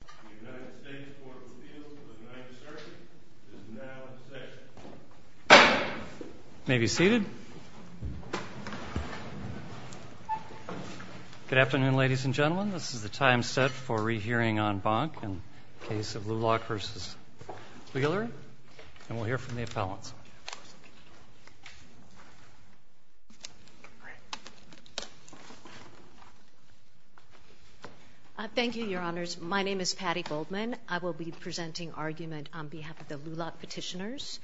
The United States Court of Appeals for the Ninth Circuit is now in session. You may be seated. Good afternoon, ladies and gentlemen. This is the time set for re-hearing on Bonk and the case of LULAC v. Wheeler. And we'll hear from the appellants. Thank you, Your Honors. My name is Patty Goldman. I will be presenting argument on behalf of the LULAC petitioners.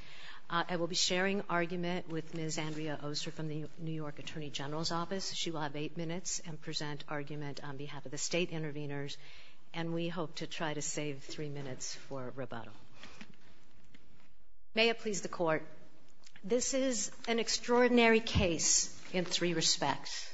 I will be sharing argument with Ms. Andrea Oster from the New York Attorney General's Office. She will have eight minutes and present argument on behalf of the state interveners. And we hope to try to save three minutes for rebuttal. May it please the Court. This is an extraordinary case in three respects.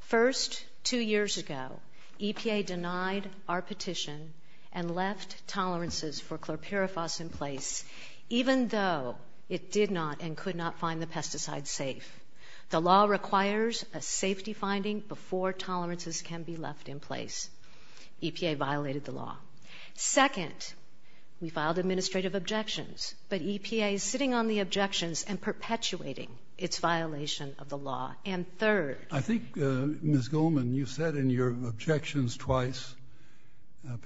First, two years ago, EPA denied our petition and left tolerances for chlorpyrifos in place, even though it did not and could not find the pesticide safe. The law requires a safety finding before tolerances can be left in place. EPA violated the law. Second, we filed administrative objections, but EPA is sitting on the objections and perpetuating its violation of the law. And third- I think, Ms. Goldman, you said in your objections twice,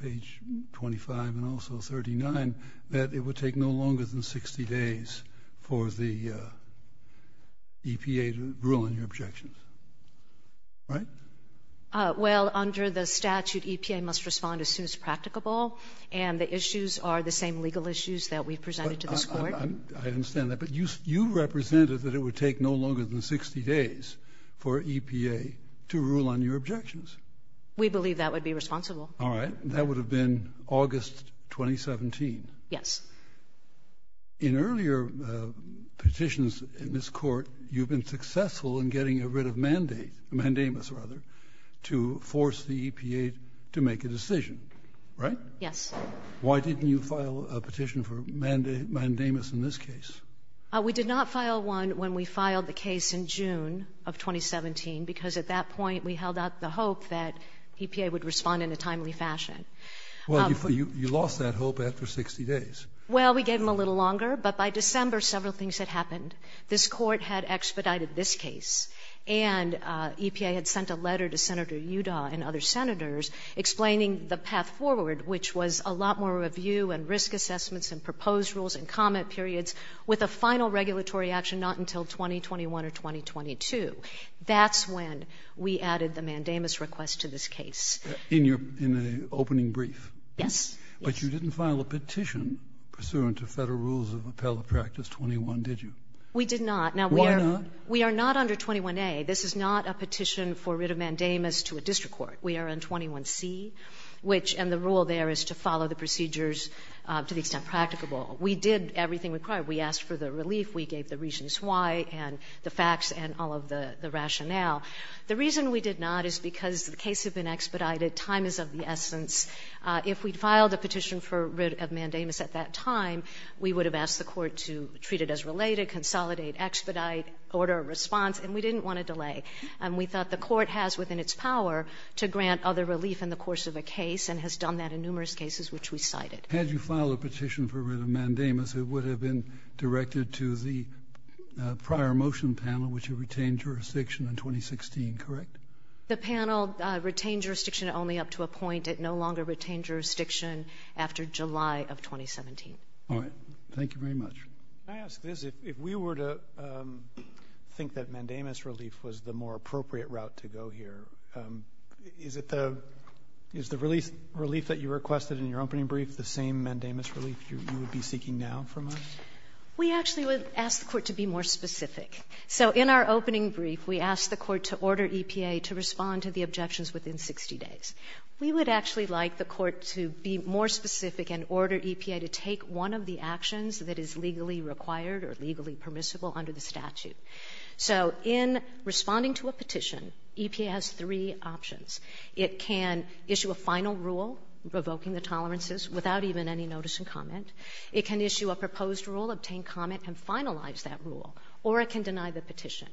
page 25 and also 39, that it would take no longer than 60 days for the EPA to rule on your objections. Right? Well, under the statute, EPA must respond as soon as practicable, and the issues are the same legal issues that we've presented to this Court. I understand that. But you represented that it would take no longer than 60 days for EPA to rule on your objections. We believe that would be responsible. All right. That would have been August 2017. Yes. In earlier petitions in this Court, you've been successful in getting rid of mandate or mandamus, rather, to force the EPA to make a decision. Right? Yes. Why didn't you file a petition for mandamus in this case? We did not file one when we filed the case in June of 2017, because at that point we held out the hope that EPA would respond in a timely fashion. Well, you lost that hope after 60 days. Well, we gave them a little longer, but by December several things had happened. This Court had expedited this case, and EPA had sent a letter to Senator Udall and other senators explaining the path forward, which was a lot more review and risk assessments and proposed rules and comment periods, with a final regulatory action not until 2021 or 2022. That's when we added the mandamus request to this case. In your opening brief? Yes. But you didn't file a petition pursuant to Federal rules of appellate practice 21, did you? We did not. Why not? Now, we are not under 21a. This is not a petition for rid of mandamus to a district court. We are in 21c, which the rule there is to follow the procedures to the extent practicable. We did everything required. We asked for the relief. We gave the reasons why and the facts and all of the rationale. The reason we did not is because the case had been expedited. Time is of the essence. If we had filed a petition for rid of mandamus at that time, we would have asked the Court to treat it as related, consolidate, expedite, order a response, and we didn't want to delay. And we thought the Court has within its power to grant other relief in the course of a case and has done that in numerous cases which we cited. Had you filed a petition for rid of mandamus, it would have been directed to the court in July of 2016, correct? The panel retained jurisdiction only up to a point. It no longer retained jurisdiction after July of 2017. All right. Thank you very much. Can I ask this? If we were to think that mandamus relief was the more appropriate route to go here, is it the relief that you requested in your opening brief the same mandamus relief you would be seeking now from us? We actually would ask the Court to be more specific. So in our opening brief, we asked the Court to order EPA to respond to the objections within 60 days. We would actually like the Court to be more specific and order EPA to take one of the actions that is legally required or legally permissible under the statute. So in responding to a petition, EPA has three options. It can issue a final rule revoking the tolerances without even any notice and comment. It can issue a proposed rule, obtain comment, and finalize that rule. Or it can deny the petition.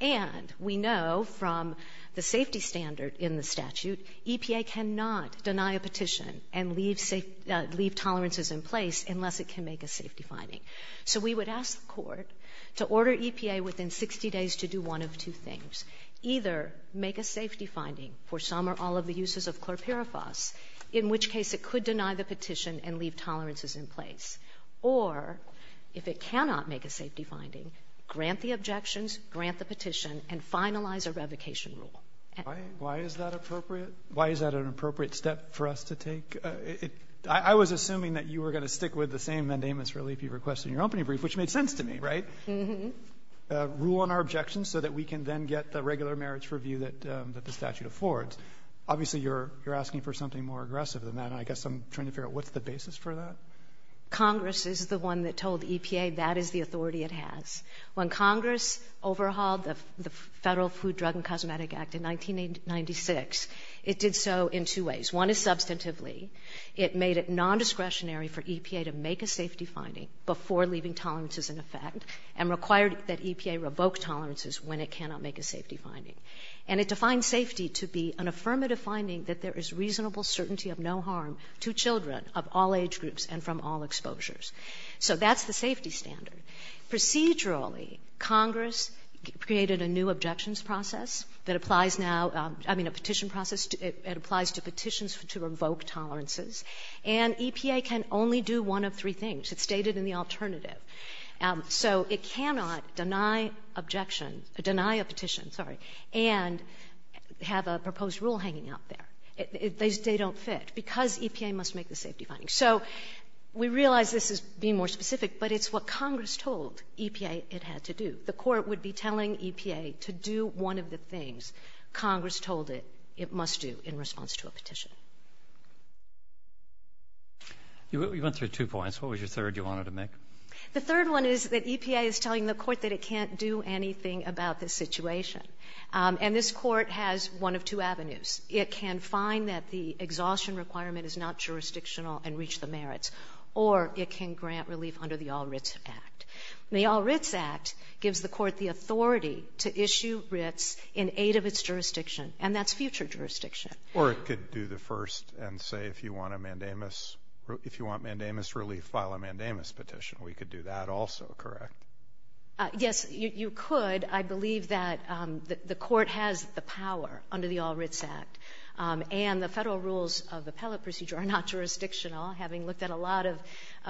And we know from the safety standard in the statute, EPA cannot deny a petition and leave tolerances in place unless it can make a safety finding. So we would ask the Court to order EPA within 60 days to do one of two things. Either make a safety finding for some or all of the uses of chlorpyrifos, in which case it could deny the petition and leave tolerances in place. Or, if it cannot make a safety finding, grant the objections, grant the petition, and finalize a revocation rule. And why is that appropriate? Why is that an appropriate step for us to take? I was assuming that you were going to stick with the same mandamus relief you requested in your opening brief, which made sense to me, right? Uh-huh. Rule on our objections so that we can then get the regular merits review that the statute affords. Obviously, you're asking for something more aggressive than that, and I guess I'm trying to figure out what's the basis for that. Congress is the one that told EPA that is the authority it has. When Congress overhauled the Federal Food, Drug, and Cosmetic Act in 1996, it did so in two ways. One is substantively. It made it nondiscretionary for EPA to make a safety finding before leaving tolerances in effect and required that EPA revoke tolerances when it cannot make a safety finding. And it defined safety to be an affirmative finding that there is reasonable certainty of no harm to children of all age groups and from all exposures. So that's the safety standard. Procedurally, Congress created a new objections process that applies now, I mean, a petition process. It applies to petitions to revoke tolerances. And EPA can only do one of three things. It's stated in the alternative. So it cannot deny objection or deny a petition, sorry, and have a proposed rule hanging out there. They don't fit because EPA must make the safety finding. So we realize this is being more specific, but it's what Congress told EPA it had to do. The Court would be telling EPA to do one of the things Congress told it it must do in response to a petition. Roberts. You went through two points. What was your third you wanted to make? The third one is that EPA is telling the Court that it can't do anything about this situation. And this Court has one of two avenues. It can find that the exhaustion requirement is not jurisdictional and reach the merits, or it can grant relief under the All Writs Act. And the All Writs Act gives the Court the authority to issue writs in aid of its jurisdiction, and that's future jurisdiction. Or it could do the first and say if you want a mandamus, if you want mandamus relief, file a mandamus petition. We could do that also, correct? Yes, you could. I believe that the Court has the power under the All Writs Act. And the Federal rules of appellate procedure are not jurisdictional. Having looked at a lot of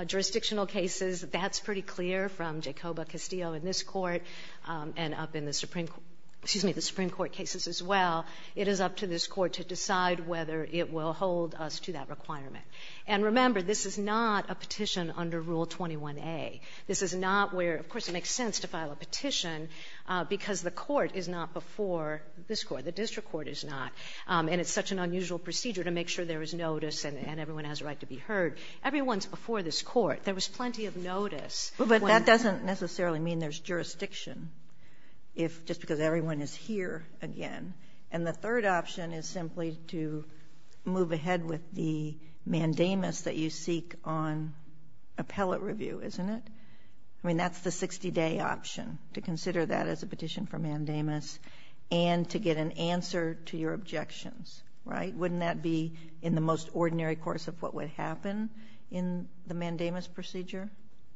jurisdictional cases, that's pretty clear from Jacoba Castillo in this Court and up in the Supreme Court, excuse me, the Supreme Court cases as well. It is up to this Court to decide whether it will hold us to that requirement. And remember, this is not a petition under Rule 21a. This is not where of course it makes sense to file a petition because the Court is not before this Court, the district court is not, and it's such an unusual procedure to make sure there is notice and everyone has a right to be heard. Everyone's before this Court. There was plenty of notice. But that doesn't necessarily mean there's jurisdiction. Just because everyone is here again. And the third option is simply to move ahead with the mandamus that you seek on appellate review, isn't it? I mean, that's the 60-day option, to consider that as a petition for mandamus and to get an answer to your objections, right? Wouldn't that be in the most ordinary course of what would happen in the mandamus procedure?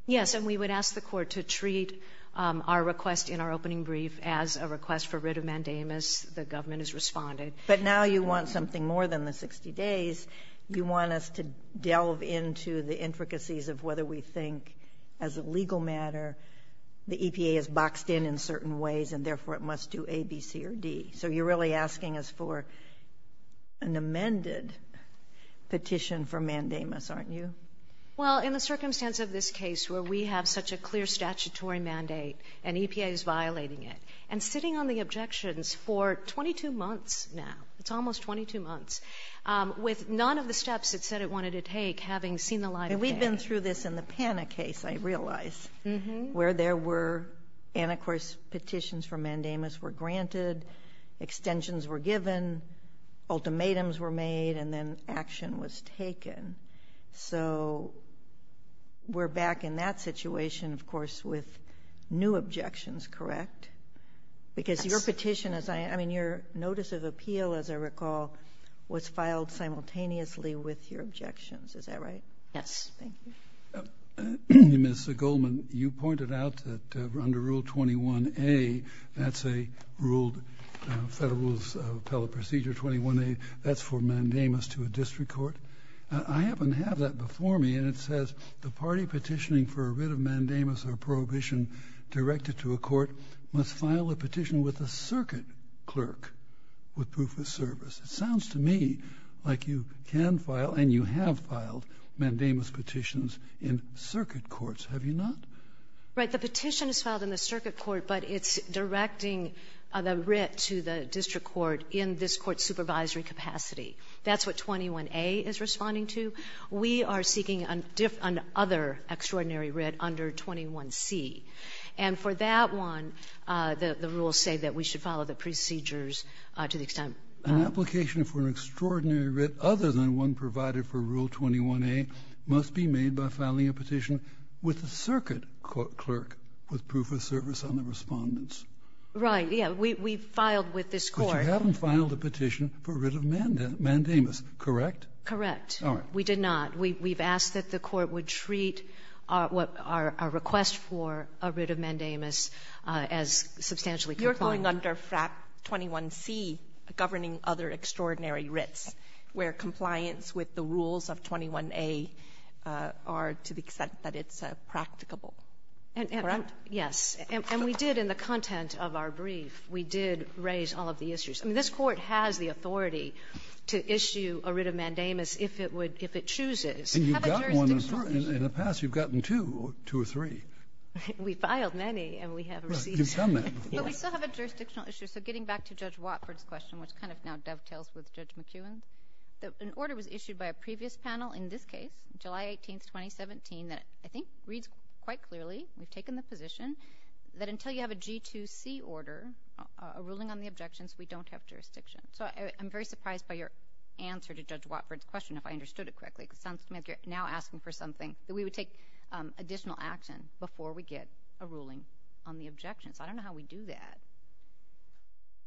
Yes, and we would ask the Court to treat our request in our opening brief as a request for writ of mandamus. The government has responded. But now you want something more than the 60 days. You want us to delve into the intricacies of whether we think as a legal matter the EPA has boxed in in certain ways and therefore it must do A, B, C, or D. So you're really asking us for an amended petition for mandamus, aren't you? Well, in the circumstance of this case where we have such a clear statutory mandate and EPA is violating it, and sitting on the objections for 22 months now, it's almost 22 months, with none of the steps it said it wanted to take having seen the light of day. And we've been through this in the PANA case, I realize, where there were anti-course petitions for mandamus were granted, extensions were given, ultimatums were made, and then action was taken. So we're back in that situation, of course, with new objections, correct? Yes. Because your petition, I mean, your notice of appeal, as I recall, was filed simultaneously with your objections. Is that right? Yes. Thank you. Ms. Goldman, you pointed out that under Rule 21A, that's a Federal Rules of Appellate Procedure 21A, that's for mandamus to a district court. I happen to have that before me, and it says, the party petitioning for a writ of mandamus or prohibition directed to a court must file a petition with a circuit clerk with proof of service. It sounds to me like you can file, and you have filed, mandamus petitions in circuit courts. Have you not? Right. The petition is filed in the circuit court, but it's directing the writ to the district court in this court's supervisory capacity. That's what 21A is responding to. We are seeking another extraordinary writ under 21C. And for that one, the rules say that we should follow the procedures to the extent of the court. An application for an extraordinary writ other than one provided for Rule 21A must be made by filing a petition with a circuit clerk with proof of service on the respondents. Right. We filed with this court. But you haven't filed a petition for a writ of mandamus, correct? Correct. All right. We did not. We've asked that the court would treat our request for a writ of mandamus as substantially compliant. You're going under 21C governing other extraordinary writs, where compliance with the rules of 21A are to the extent that it's practicable. Correct? Yes. And we did in the content of our brief, we did raise all of the issues. I mean, this court has the authority to issue a writ of mandamus if it would, if it chooses. And you've got one. In the past, you've gotten two, two or three. We filed many, and we haven't received many. Right. You've done that before. But we still have a jurisdictional issue. So getting back to Judge Watford's question, which kind of now dovetails with Judge McEwen's, an order was issued by a previous panel in this case, July 18th, 2017, that I think reads quite clearly. We've taken the position that until you have a G2C order, a ruling on the objections, we don't have jurisdiction. So I'm very surprised by your answer to Judge Watford's question, if I understood it correctly. It sounds to me like you're now asking for something that we would take additional action before we get a ruling on the objections. I don't know how we do that.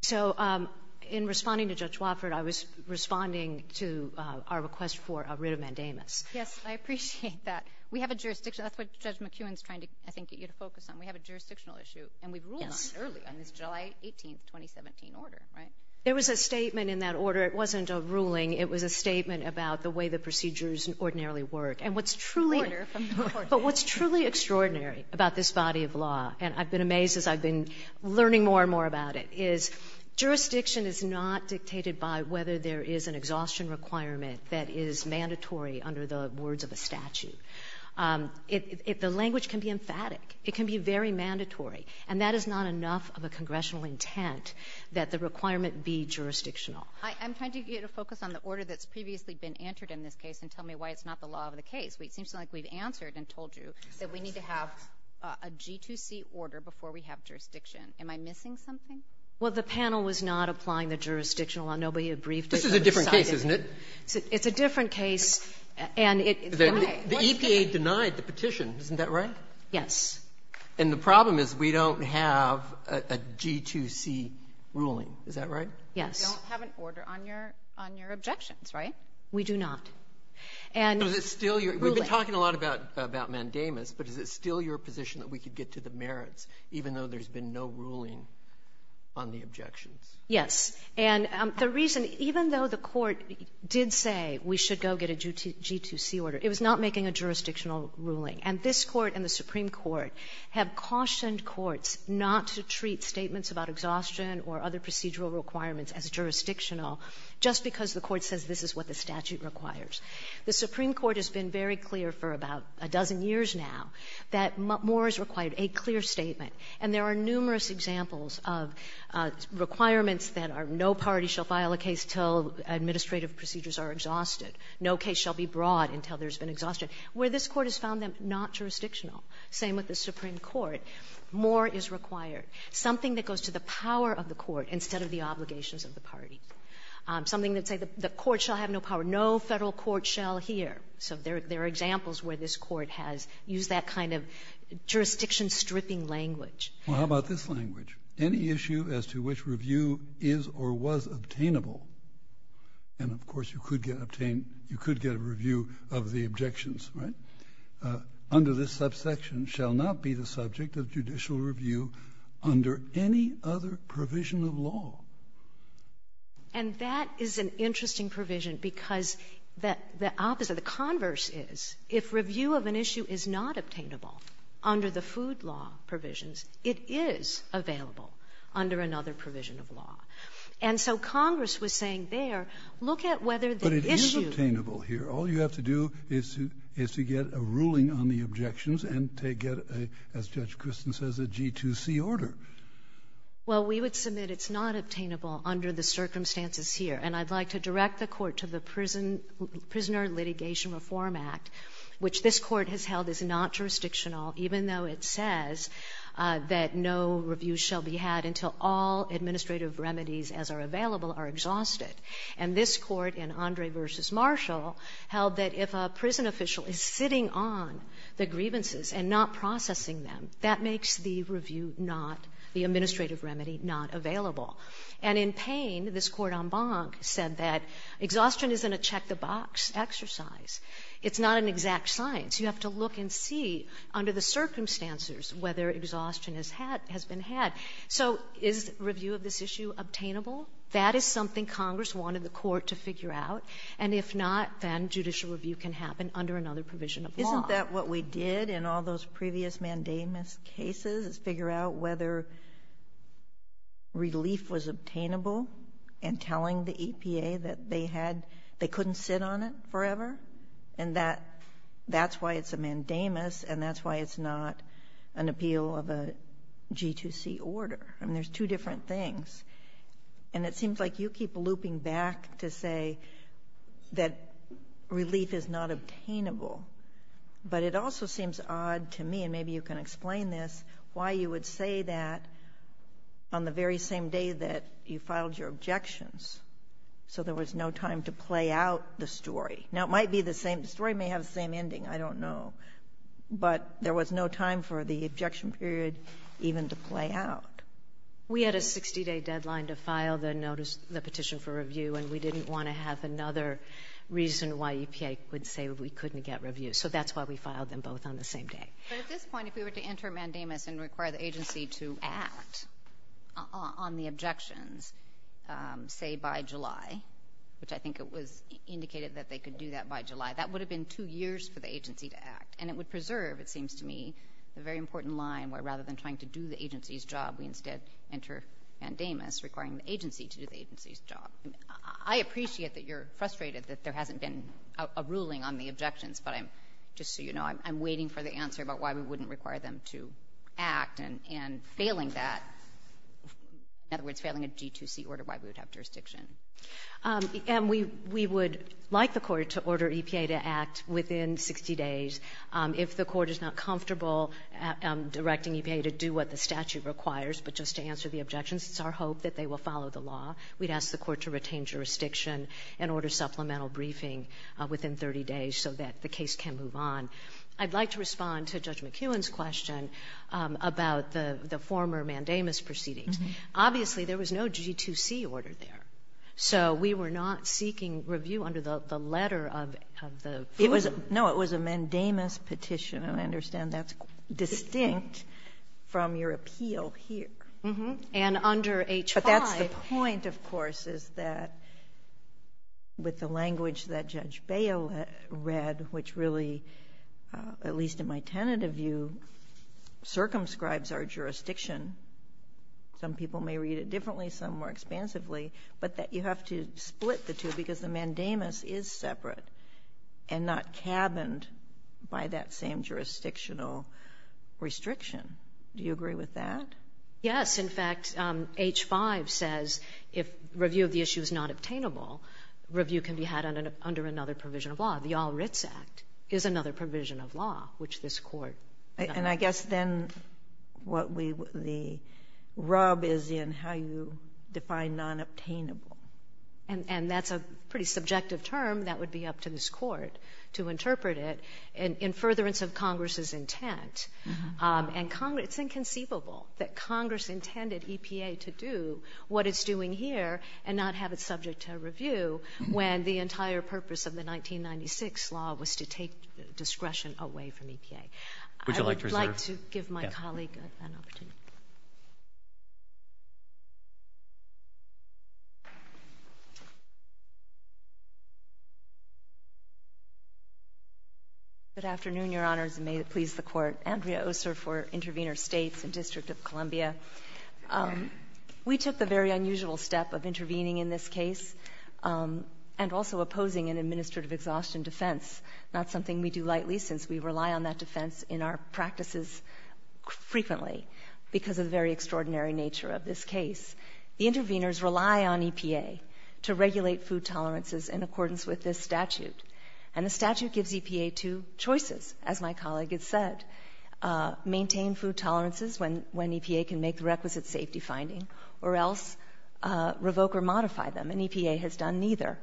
So in responding to Judge Watford, I was responding to our request for a writ of mandamus. Yes. I appreciate that. We have a jurisdiction. That's what Judge McEwen's trying to, I think, get you to focus on. We have a jurisdictional issue. Yes. And we've ruled on it earlier in this July 18th, 2017 order, right? There was a statement in that order. It wasn't a ruling. It was a statement about the way the procedures ordinarily work. And what's truly extraordinary about this body of law, and I've been amazed as I've been learning more and more about it, is jurisdiction is not dictated by whether there is an exhaustion requirement that is mandatory under the words of a statute. The language can be emphatic. It can be very mandatory. And that is not enough of a congressional intent that the requirement be jurisdictional. I'm trying to get a focus on the order that's previously been entered in this case and tell me why it's not the law of the case. It seems like we've answered and told you that we need to have a G2C order before we have jurisdiction. Am I missing something? Well, the panel was not applying the jurisdictional law. Nobody had briefed us. This is a different case, isn't it? It's a different case. The EPA denied the petition. Isn't that right? Yes. And the problem is we don't have a G2C ruling. Is that right? Yes. You don't have an order on your objections, right? We do not. And ruling. We've been talking a lot about mandamus, but is it still your position that we could get to the merits, even though there's been no ruling on the objections? Yes. And the reason, even though the Court did say we should go get a G2C order, it was not making a jurisdictional ruling. And this Court and the Supreme Court have cautioned courts not to treat statements about exhaustion or other procedural requirements as jurisdictional just because the Court says this is what the statute requires. The Supreme Court has been very clear for about a dozen years now that more is required, a clear statement. And there are numerous examples of requirements that are no party shall file a case until administrative procedures are exhausted, no case shall be brought until there has been exhaustion, where this Court has found them not jurisdictional. Same with the Supreme Court. More is required. Something that goes to the power of the court instead of the obligations of the party. Something that says the court shall have no power. No Federal court shall hear. So there are examples where this Court has used that kind of jurisdiction-stripping language. Kennedy. Well, how about this language? Any issue as to which review is or was obtainable, and, of course, you could get obtained, you could get a review of the objections, right, under this subsection shall not be the subject of judicial review under any other provision of law. And that is an interesting provision because the opposite, the converse is, if review of an issue is not obtainable under the food law provisions, it is available under another provision of law. And so Congress was saying there, look at whether the issue of the issue. But it is obtainable here. All you have to do is to get a ruling on the objections and to get, as Judge Kristen says, a G2C order. Well, we would submit it's not obtainable under the circumstances here. And I'd like to direct the Court to the Prisoner Litigation Reform Act, which this Court has held is not jurisdictional, even though it says that no review shall be had until all administrative remedies as are available are exhausted. And this Court in Andre v. Marshall held that if a prison official is sitting on the grievances and not processing them, that makes the review not, the administrative remedy not available. And in Payne, this Court en banc said that exhaustion isn't a check-the-box exercise. It's not an exact science. You have to look and see under the circumstances whether exhaustion has been had. So is review of this issue obtainable? That is something Congress wanted the Court to figure out. And if not, then judicial review can happen under another provision of law. I thought that what we did in all those previous mandamus cases is figure out whether relief was obtainable and telling the EPA that they had, they couldn't sit on it forever. And that, that's why it's a mandamus and that's why it's not an appeal of a G2C order. I mean, there's two different things. And it seems like you keep looping back to say that relief is not obtainable. But it also seems odd to me, and maybe you can explain this, why you would say that on the very same day that you filed your objections, so there was no time to play out the story. Now, it might be the same. The story may have the same ending. I don't know. But there was no time for the objection period even to play out. We had a 60-day deadline to file the petition for review, and we didn't want to have another reason why EPA would say we couldn't get review. So that's why we filed them both on the same day. But at this point, if we were to enter a mandamus and require the agency to act on the objections, say, by July, which I think it was indicated that they could do that by July, that would have been two years for the agency to act. And it would preserve, it seems to me, the very important line where rather than trying to do the agency's job, we instead enter mandamus requiring the agency to do the agency's job. I appreciate that you're frustrated that there hasn't been a ruling on the objections, but I'm, just so you know, I'm waiting for the answer about why we wouldn't require them to act, and failing that, in other words, failing a G2C order, why we would have jurisdiction. And we would like the Court to order EPA to act within 60 days. If the Court is not comfortable directing EPA to do what the statute requires, but just to answer the objections, it's our hope that they will follow the law. We'd ask the Court to retain jurisdiction and order supplemental briefing within 30 days so that the case can move on. I'd like to respond to Judge McKeown's question about the former mandamus proceedings. Obviously, there was no G2C order there. So we were not seeking review under the letter of the fool. No, it was a mandamus petition. And I understand that's distinct from your appeal here. And under H5. But that's the point, of course, is that with the language that Judge Bale read, which really, at least in my tentative view, circumscribes our jurisdiction, some people may read it differently, some more expansively, but that you have to split the two because the mandamus is separate and not cabined by that same jurisdictional restriction. Do you agree with that? Yes. In fact, H5 says if review of the issue is not obtainable, review can be had under another provision of law. The All Writs Act is another provision of law, which this Court does not have. And I guess then what the rub is in how you define non-obtainable. And that's a pretty subjective term that would be up to this Court to interpret it in furtherance of Congress's intent. And it's inconceivable that Congress intended EPA to do what it's doing here and not have it subject to review when the entire purpose of the 1996 law was to take discretion away from EPA. Would you like to reserve? I would like to give my colleague an opportunity. Good afternoon, Your Honors, and may it please the Court. Andrea Ossor for Intervenor States and District of Columbia. We took the very unusual step of intervening in this case and also opposing an administrative exhaustion defense, not something we do lightly since we rely on that defense in our practices frequently because of the very extraordinary nature of this case. The intervenors rely on EPA to regulate food tolerances in accordance with this statute. And the statute gives EPA two choices, as my colleague has said. Maintain food tolerances when EPA can make the requisite safety finding or else revoke or modify them. And EPA has done neither,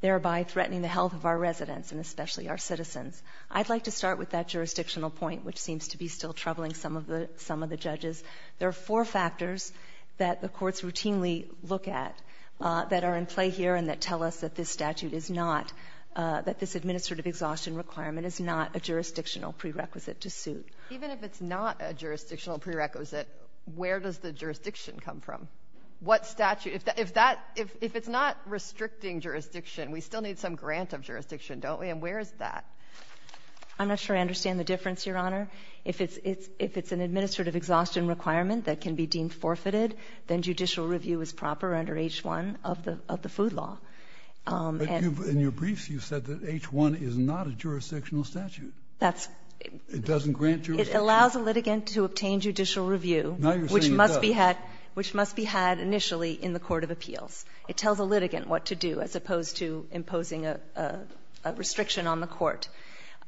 thereby threatening the health of our residents and especially our citizens. I'd like to start with that jurisdictional point, which seems to be still troubling some of the judges. There are four factors that the courts routinely look at that are in play here and that tell us that this statute is not, that this administrative exhaustion requirement is not a jurisdictional prerequisite to suit. Even if it's not a jurisdictional prerequisite, where does the jurisdiction come from? What statute? If that — if it's not restricting jurisdiction, we still need some grant of jurisdiction, don't we? And where is that? I'm not sure I understand the difference, Your Honor. If it's an administrative exhaustion requirement that can be deemed forfeited, then judicial review is proper under H-1 of the food law. But in your briefs you said that H-1 is not a jurisdictional statute. That's — It doesn't grant jurisdiction. It allows a litigant to obtain judicial review, which must be had initially in the court of appeals. It tells a litigant what to do as opposed to imposing a restriction on the court.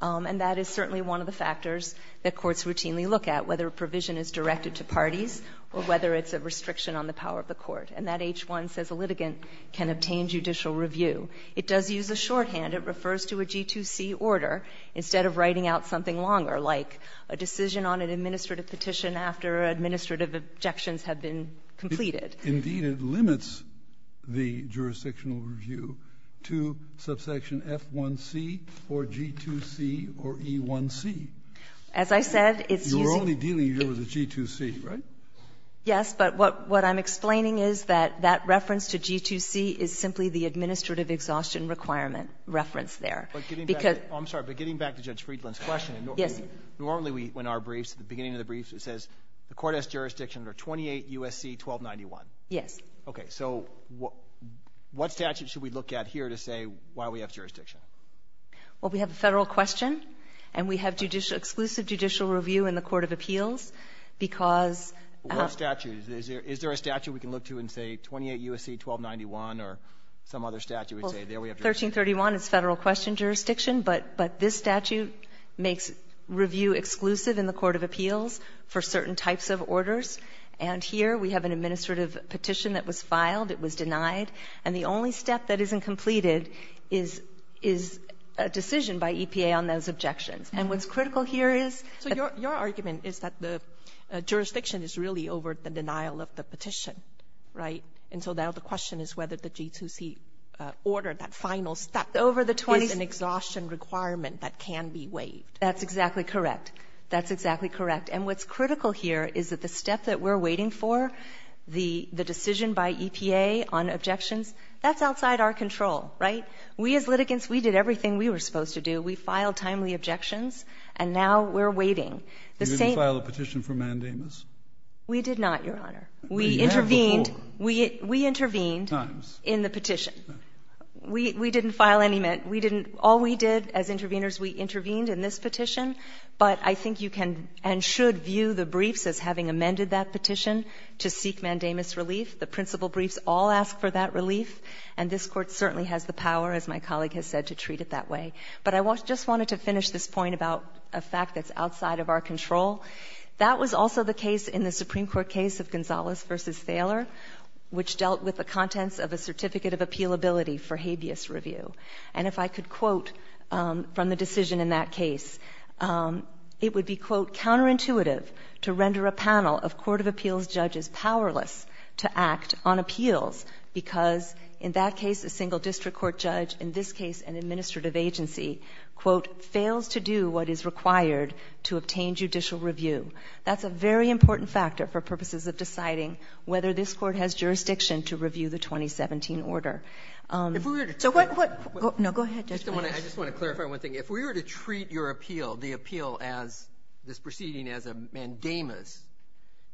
And that is certainly one of the factors that courts routinely look at, whether a provision is directed to parties or whether it's a restriction on the power of the court. And that H-1 says a litigant can obtain judicial review. It does use a shorthand. It refers to a G2C order instead of writing out something longer, like a decision on an administrative petition after administrative objections have been completed. Indeed, it limits the jurisdictional review to subsection F1C or G2C or E1C. As I said, it's using — You're only dealing here with a G2C, right? Yes. But what I'm explaining is that that reference to G2C is simply the administrative exhaustion requirement reference there. Because — I'm sorry. But getting back to Judge Friedland's question — Yes. Normally, when our briefs, at the beginning of the briefs, it says the court has jurisdiction under 28 U.S.C. 1291. Yes. Okay. So what statute should we look at here to say why we have jurisdiction? Well, we have a Federal question, and we have judicial — exclusive judicial review in the court of appeals because — What statute? Is there a statute we can look to and say 28 U.S.C. 1291 or some other statute would say there we have jurisdiction? Well, 1331 is Federal question jurisdiction, but this statute makes review exclusive in the court of appeals for certain types of orders. And here we have an administrative petition that was filed. It was denied. And the only step that isn't completed is a decision by EPA on those objections. And what's critical here is — So your argument is that the jurisdiction is really over the denial of the petition, right? And so now the question is whether the G2C order, that final step — Over the 20 —— is an exhaustion requirement that can be waived. That's exactly correct. And what's critical here is that the step that we're waiting for, the decision by EPA on objections, that's outside our control, right? We as litigants, we did everything we were supposed to do. We filed timely objections, and now we're waiting. The same — Did you file a petition for mandamus? We did not, Your Honor. We intervened. We have before. We intervened in the petition. We didn't file any — we didn't — all we did as interveners, we intervened in this petition. But I think you can and should view the briefs as having amended that petition to seek mandamus relief. The principal briefs all ask for that relief, and this Court certainly has the power, as my colleague has said, to treat it that way. But I just wanted to finish this point about a fact that's outside of our control. That was also the case in the Supreme Court case of Gonzalez v. Thaler, which dealt with the contents of a certificate of appealability for habeas review. And if I could quote from the decision in that case, it would be, quote, counterintuitive to render a panel of court of appeals judges powerless to act on appeals because, in that case, a single district court judge, in this case an administrative agency, quote, fails to do what is required to obtain judicial review. That's a very important factor for purposes of deciding whether this Court has jurisdiction to review the 2017 order. If we were to treat your appeal, the appeal as this proceeding as a mandamus,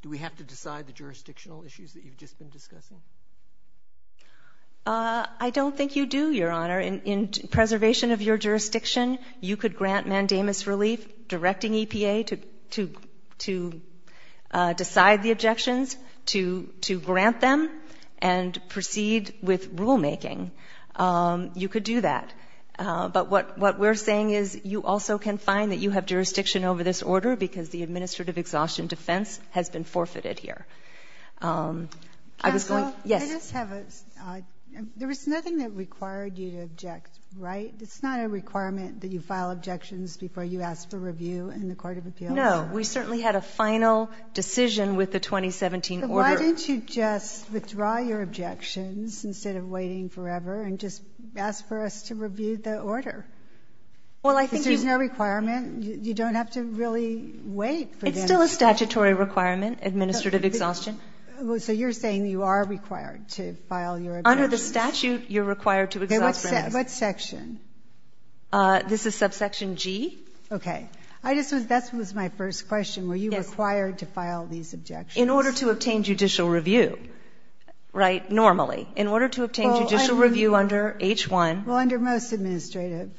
do we have to decide the jurisdictional issues that you've just been discussing? I don't think you do, Your Honor. In preservation of your jurisdiction, you could grant mandamus relief, directing EPA to decide the objections, to grant them, and proceed with rulemaking. You could do that. But what we're saying is you also can find that you have jurisdiction over this order because the administrative exhaustion defense has been forfeited here. I was going to – yes. Counsel, I just have a – there was nothing that required you to object, right? It's not a requirement that you file objections before you ask for review in the court of appeals, Your Honor. No. We certainly had a final decision with the 2017 order. Then why didn't you just withdraw your objections instead of waiting forever and just ask for us to review the order? Well, I think you – Because there's no requirement. You don't have to really wait for them to – It's still a statutory requirement, administrative exhaustion. Under the statute, you're required to exhaust them. Okay. What section? This is subsection G. Okay. I just was – that was my first question. Were you required to file these objections? In order to obtain judicial review, right? Normally. In order to obtain judicial review under H-1. Well, under most administrative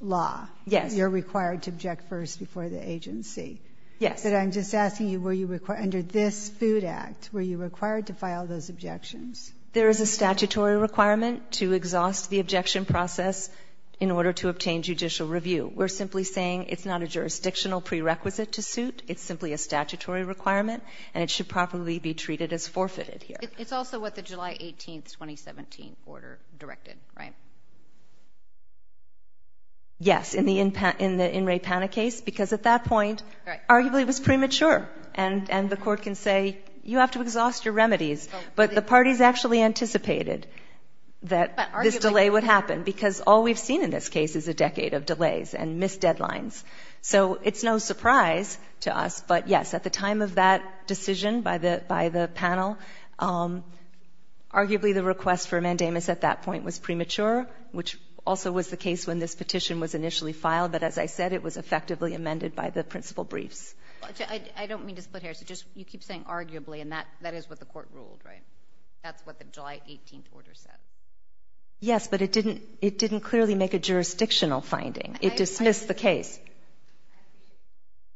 law, you're required to object first before the agency. Yes. But I'm just asking you, were you – under this Food Act, were you required to file those objections? There is a statutory requirement to exhaust the objection process in order to obtain judicial review. We're simply saying it's not a jurisdictional prerequisite to suit. It's simply a statutory requirement, and it should properly be treated as forfeited here. It's also what the July 18, 2017 order directed, right? Yes, in the In Re Pana case, because at that point, arguably it was premature, and the court can say, you have to exhaust your remedies. But the parties actually anticipated that this delay would happen, because all we've seen in this case is a decade of delays and missed deadlines. So it's no surprise to us, but yes, at the time of that decision by the panel, arguably the request for mandamus at that point was premature, which also was the case when this petition was initially filed. But as I said, it was effectively amended by the principal briefs. I don't mean to split hairs. You keep saying arguably, and that is what the court ruled, right? That's what the July 18 order said. Yes, but it didn't clearly make a jurisdictional finding. It dismissed the case.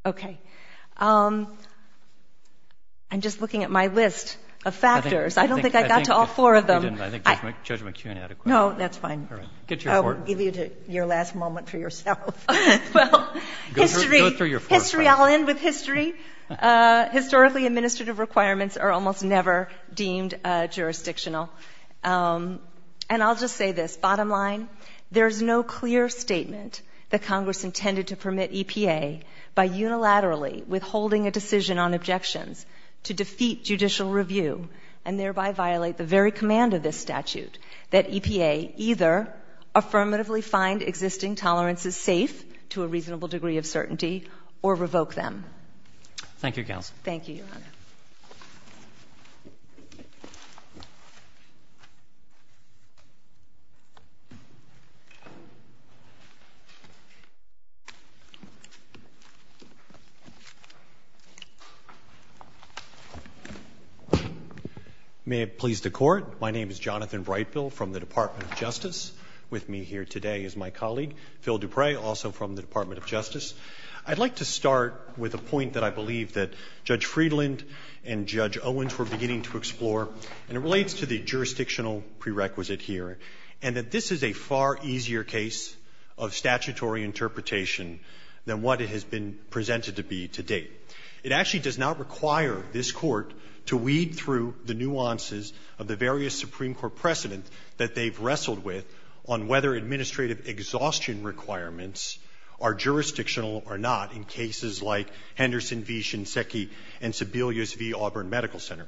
Okay. I'm just looking at my list of factors. I don't think I got to all four of them. I think Judge McKeon had a question. No, that's fine. I will give you your last moment for yourself. Well, history. I'll end with history. Historically, administrative requirements are almost never deemed jurisdictional. And I'll just say this. Bottom line, there is no clear statement that Congress intended to permit EPA by unilaterally withholding a decision on objections to defeat judicial review and thereby violate the very command of this statute that EPA either affirmatively find existing tolerances safe to a reasonable degree of certainty or revoke them. Thank you, Counsel. Thank you, Your Honor. May it please the Court. My name is Jonathan Breitbill from the Department of Justice. With me here today is my colleague, Phil Dupre, also from the Department of Justice. I'd like to start with a point that I believe that Judge Friedland and Judge Owens were beginning to explore, and it relates to the jurisdictional prerequisite here, and that this is a far easier case of statutory interpretation than what it has been presented to be to date. It actually does not require this Court to weed through the nuances of the various Supreme Court precedent that they've wrestled with on whether administrative exhaustion requirements are jurisdictional or not in cases like Henderson v. Shinseki and Sebelius v. Auburn Medical Center.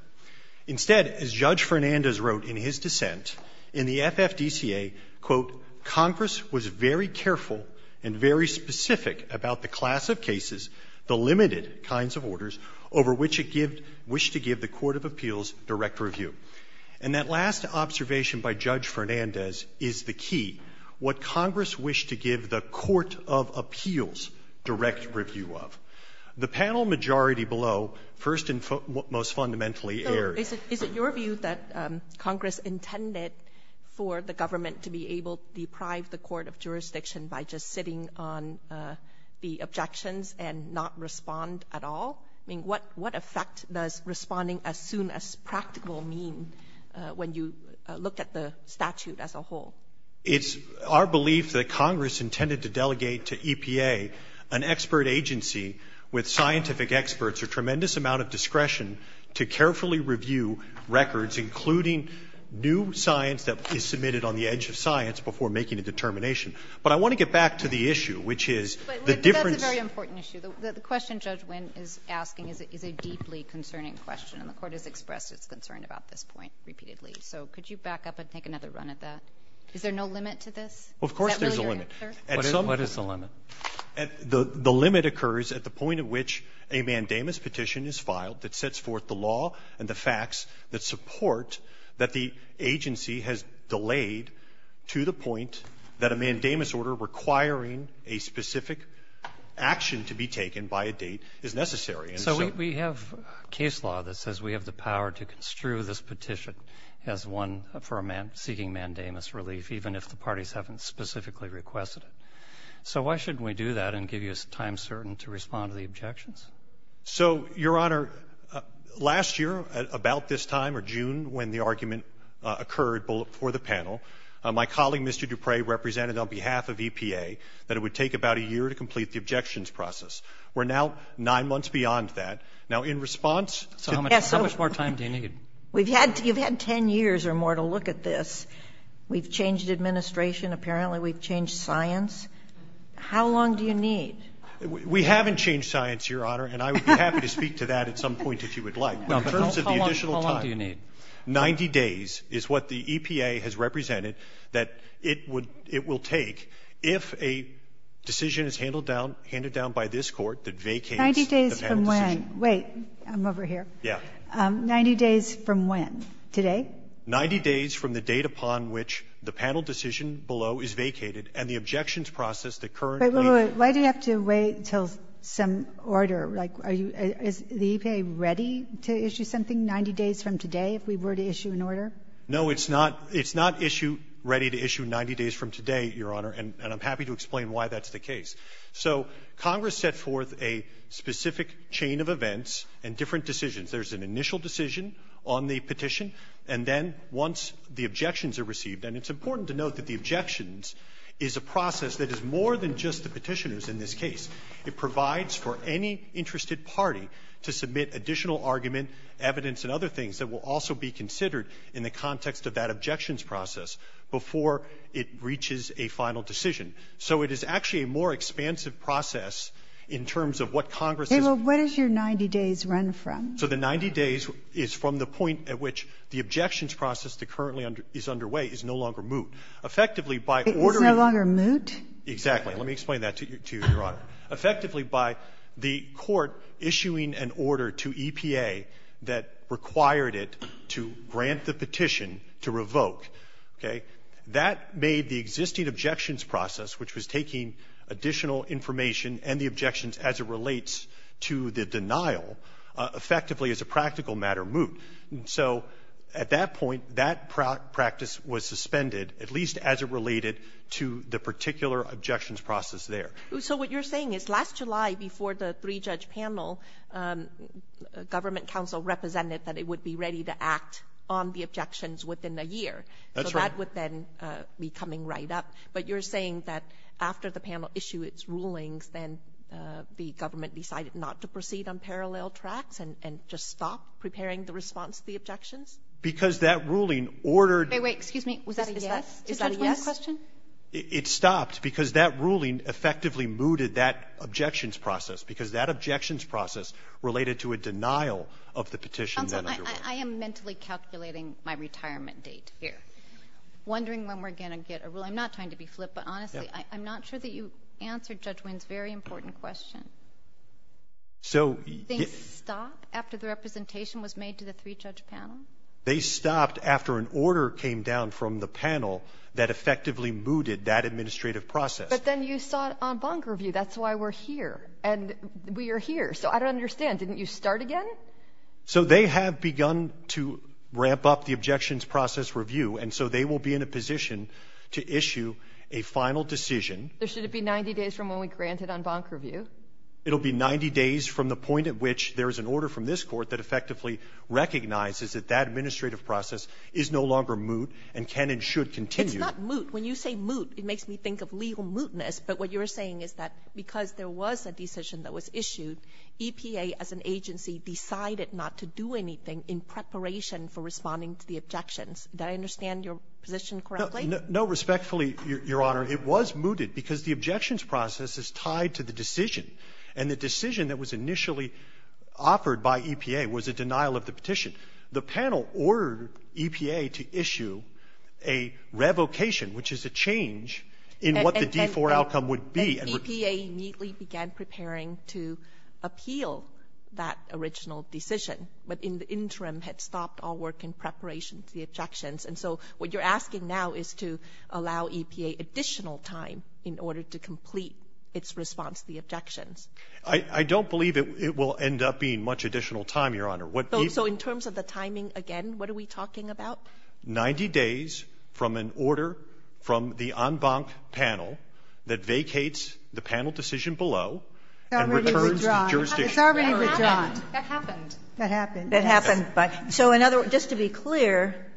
Instead, as Judge Fernandez wrote in his dissent, in the FFDCA, quote, Congress was very careful and very specific about the class of cases, the limited kinds of orders, over which it gived the Court of Appeals direct review. And that last observation by Judge Fernandez is the key, what Congress wished to give the Court of Appeals direct review of. The panel majority below first and most fundamentally Is it your view that Congress intended for the government to be able to deprive the court of jurisdiction by just sitting on the objections and not respond at all? I mean, what effect does responding as soon as practical mean when you look at the statute as a whole? It's our belief that Congress intended to delegate to EPA, an expert agency with scientific experts, a tremendous amount of discretion to carefully review records, including new science that is submitted on the edge of science before making a determination. But I want to get back to the issue, which is the difference. But that's a very important issue. The question Judge Wynn is asking is a deeply concerning question, and the Court has expressed its concern about this point repeatedly. So could you back up and take another run at that? Is there no limit to this? Of course there's a limit. Is that really your answer? What is the limit? The limit occurs at the point at which a mandamus petition is filed that sets forth the law and the facts that support that the agency has delayed to the point that a mandamus order requiring a specific action to be taken by a date is necessary. So we have case law that says we have the power to construe this petition as one for a man seeking mandamus relief, even if the parties haven't specifically requested it. So why shouldn't we do that and give you a time certain to respond to the objections? So, Your Honor, last year, about this time, or June, when the argument occurred for the panel, my colleague, Mr. Dupre, represented on behalf of EPA that it would take about a year to complete the objections process. We're now nine months beyond that. Now, in response to the ---- So how much more time do you need? You've had 10 years or more to look at this. We've changed administration. Apparently, we've changed science. How long do you need? We haven't changed science, Your Honor, and I would be happy to speak to that at some point if you would like. But in terms of the additional time ---- Well, how long do you need? 90 days is what the EPA has represented that it would ---- it will take if a decision is handled down, handed down by this Court that vacates the panel decision. 90 days from when? I'm over here. 90 days from when? Today? No. 90 days from the date upon which the panel decision below is vacated and the objections process that currently ---- Wait, wait, wait. Why do you have to wait until some order? Like, are you ---- is the EPA ready to issue something 90 days from today if we were to issue an order? No, it's not. It's not issue ---- ready to issue 90 days from today, Your Honor, and I'm happy to explain why that's the case. So Congress set forth a specific chain of events and different decisions. There's an initial decision on the petition, and then once the objections are received, and it's important to note that the objections is a process that is more than just the Petitioners in this case. It provides for any interested party to submit additional argument, evidence, and other things that will also be considered in the context of that objections process before it reaches a final decision. So it is actually a more expansive process in terms of what Congress is ---- 90 days is from the point at which the objections process that currently is underway is no longer moot. Effectively, by ordering ---- It's no longer moot? Exactly. Let me explain that to you, Your Honor. Effectively, by the court issuing an order to EPA that required it to grant the petition to revoke, okay, that made the existing objections process, which was taking additional information and the objections as it relates to the denial, effectively is a practical matter moot. So at that point, that practice was suspended, at least as it related to the particular objections process there. So what you're saying is last July before the three-judge panel, government counsel represented that it would be ready to act on the objections within a year. That's right. So that would then be coming right up. But you're saying that after the panel issued its rulings, then the government decided not to proceed on parallel tracks and just stopped preparing the response to the objections? Because that ruling ordered ---- Wait, wait. Excuse me. Was that a yes? Is that a yes? Is that a yes question? It stopped because that ruling effectively mooted that objections process, because that objections process related to a denial of the petition that underwent. Counsel, I am mentally calculating my retirement date here, wondering when we're going to get a ruling. I'm not trying to be flip, but honestly, I'm not sure that you answered Judge Wynn's very important question. So ---- Did they stop after the representation was made to the three-judge panel? They stopped after an order came down from the panel that effectively mooted that administrative process. But then you saw it on Bonk Review. That's why we're here. And we are here. So I don't understand. Didn't you start again? So they have begun to ramp up the objections process review. And so they will be in a position to issue a final decision. There should it be 90 days from when we grant it on Bonk Review? It will be 90 days from the point at which there is an order from this Court that effectively recognizes that that administrative process is no longer moot and can and should continue. It's not moot. When you say moot, it makes me think of legal mootness. But what you're saying is that because there was a decision that was issued, EPA as an agency decided not to do anything in preparation for responding to the objections. Did I understand your position correctly? No. Respectfully, Your Honor, it was mooted because the objections process is tied to the decision. And the decision that was initially offered by EPA was a denial of the petition. The panel ordered EPA to issue a revocation, which is a change in what the D4 outcome would be. And so what you're asking now is to allow EPA additional time in order to complete its response to the objections. I don't believe it will end up being much additional time, Your Honor. So in terms of the timing, again, what are we talking about? Ninety days from an order from the en banc panel that vacates the panel decision below and returns to jurisdiction. It's already withdrawn. It's already withdrawn. That happened. That happened. So in other words, just to be clear,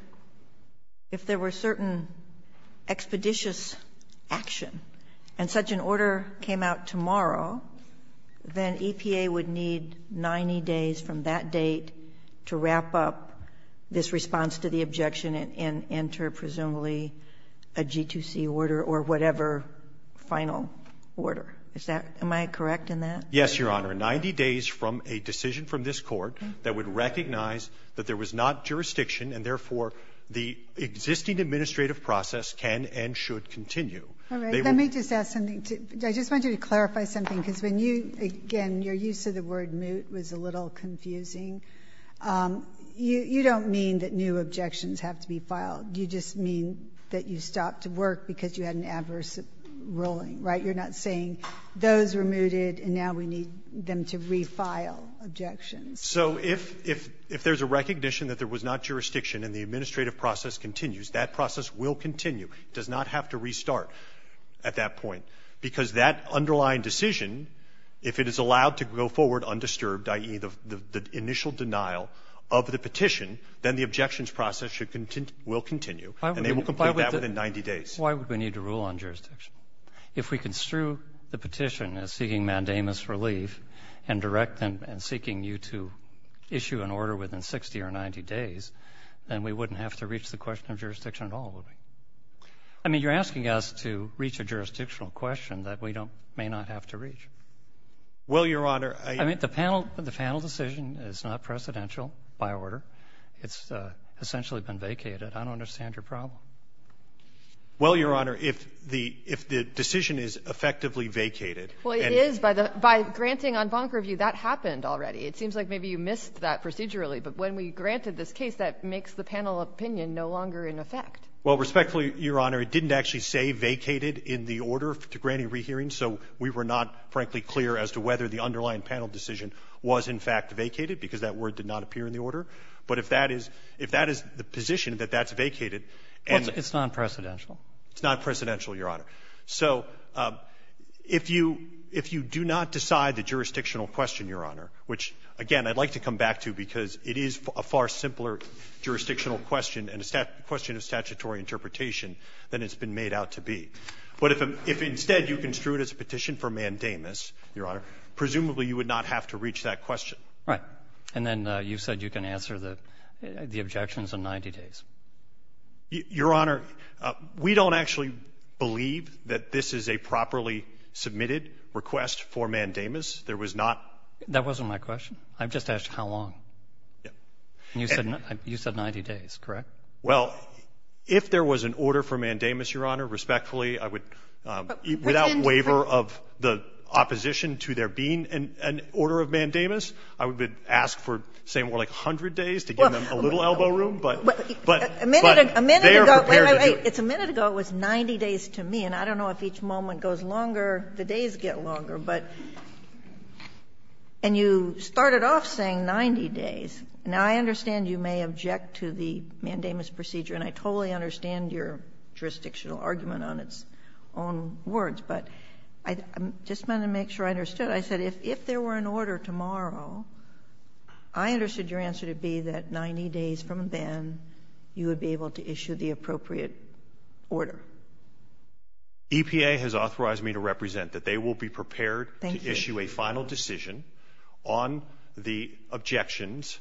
if there were certain expeditious action and such an order came out tomorrow, then EPA would need 90 days from that date to wrap up this response to the objection and enter, presumably, a G2C order or whatever final order. Is that my correct in that? Yes, Your Honor. There are 90 days from a decision from this Court that would recognize that there was not jurisdiction, and, therefore, the existing administrative process can and should continue. All right. Let me just ask something. I just want you to clarify something, because when you, again, your use of the word moot was a little confusing. You don't mean that new objections have to be filed. You just mean that you stopped work because you had an adverse ruling, right? You're not saying those were mooted and now we need them to refile objections. So if there's a recognition that there was not jurisdiction and the administrative process continues, that process will continue. It does not have to restart at that point. Because that underlying decision, if it is allowed to go forward undisturbed, i.e., the initial denial of the petition, then the objections process will continue and they will complete that within 90 days. Why would we need to rule on jurisdiction? If we construe the petition as seeking mandamus relief and direct and seeking you to issue an order within 60 or 90 days, then we wouldn't have to reach the question of jurisdiction at all, would we? I mean, you're asking us to reach a jurisdictional question that we may not have to reach. Well, Your Honor, I — I mean, the panel decision is not precedential by order. It's essentially been vacated. I don't understand your problem. Well, Your Honor, if the — if the decision is effectively vacated and — Well, it is. By the — by granting on bonk review, that happened already. It seems like maybe you missed that procedurally. But when we granted this case, that makes the panel opinion no longer in effect. Well, respectfully, Your Honor, it didn't actually say vacated in the order to grant a rehearing, so we were not, frankly, clear as to whether the underlying panel decision was, in fact, vacated, because that word did not appear in the order. But if that is — if that is the position that that's vacated and — Well, it's non-precedential. It's non-precedential, Your Honor. So if you — if you do not decide the jurisdictional question, Your Honor, which, again, I'd like to come back to because it is a far simpler jurisdictional question and a question of statutory interpretation than it's been made out to be. But if instead you construe it as a petition for mandamus, Your Honor, presumably you would not have to reach that question. Right. And then you said you can answer the objections in 90 days. Your Honor, we don't actually believe that this is a properly submitted request for mandamus. There was not — That wasn't my question. I just asked how long. Yeah. And you said 90 days, correct? Well, if there was an order for mandamus, Your Honor, respectfully, I would — But within — Without waiver of the opposition to there being an order of mandamus, I would ask for, say, more like 100 days to give them a little elbow room. But they are prepared to do it. A minute ago — wait, wait, wait. It's a minute ago. It was 90 days to me. And I don't know if each moment goes longer, the days get longer. But — and you started off saying 90 days. Now, I understand you may object to the mandamus procedure, and I totally understand your jurisdictional argument on its own words. But I just wanted to make sure I understood. I said if there were an order tomorrow, I understood your answer to be that 90 days from then, you would be able to issue the appropriate order. EPA has authorized me to represent that they will be prepared to issue a final decision on the objections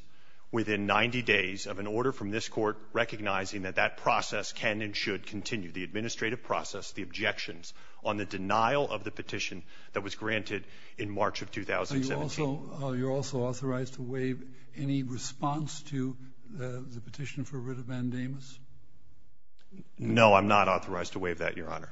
within 90 days of an order from this Court recognizing that that process can and should continue, the administrative process, the objections on the denial of the petition that was granted in March of 2017. Are you also — are you also authorized to waive any response to the petition for writ of mandamus? No, I'm not authorized to waive that, Your Honor.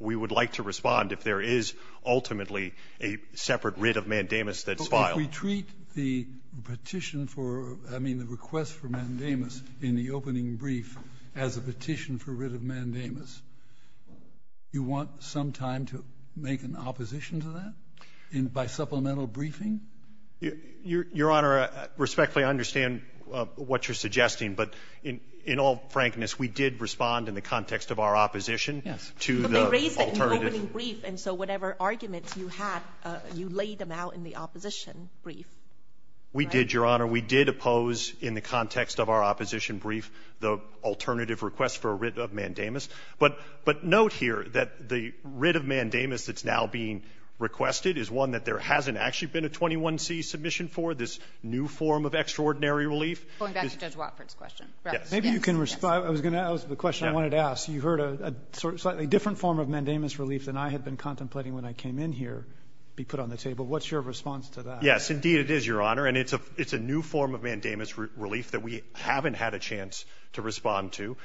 We would like to respond if there is ultimately a separate writ of mandamus that's filed. But if we treat the petition for — I mean, the request for mandamus in the opening brief as a petition for writ of mandamus, you want some time to make an opposition to that by supplemental briefing? Your Honor, respectfully, I understand what you're suggesting. But in all frankness, we did respond in the context of our opposition to the alternative ---- But they raised it in the opening brief, and so whatever arguments you had, you laid them out in the opposition brief. We did, Your Honor. We did oppose in the context of our opposition brief the alternative request for a writ of mandamus. But note here that the writ of mandamus that's now being requested is one that there hasn't actually been a 21C submission for, this new form of extraordinary relief. Going back to Judge Watford's question. Yes. Maybe you can respond. I was going to ask the question I wanted to ask. You heard a slightly different form of mandamus relief than I had been contemplating when I came in here be put on the table. What's your response to that? Indeed, it is, Your Honor. And it's a new form of mandamus relief that we haven't had a chance to respond to,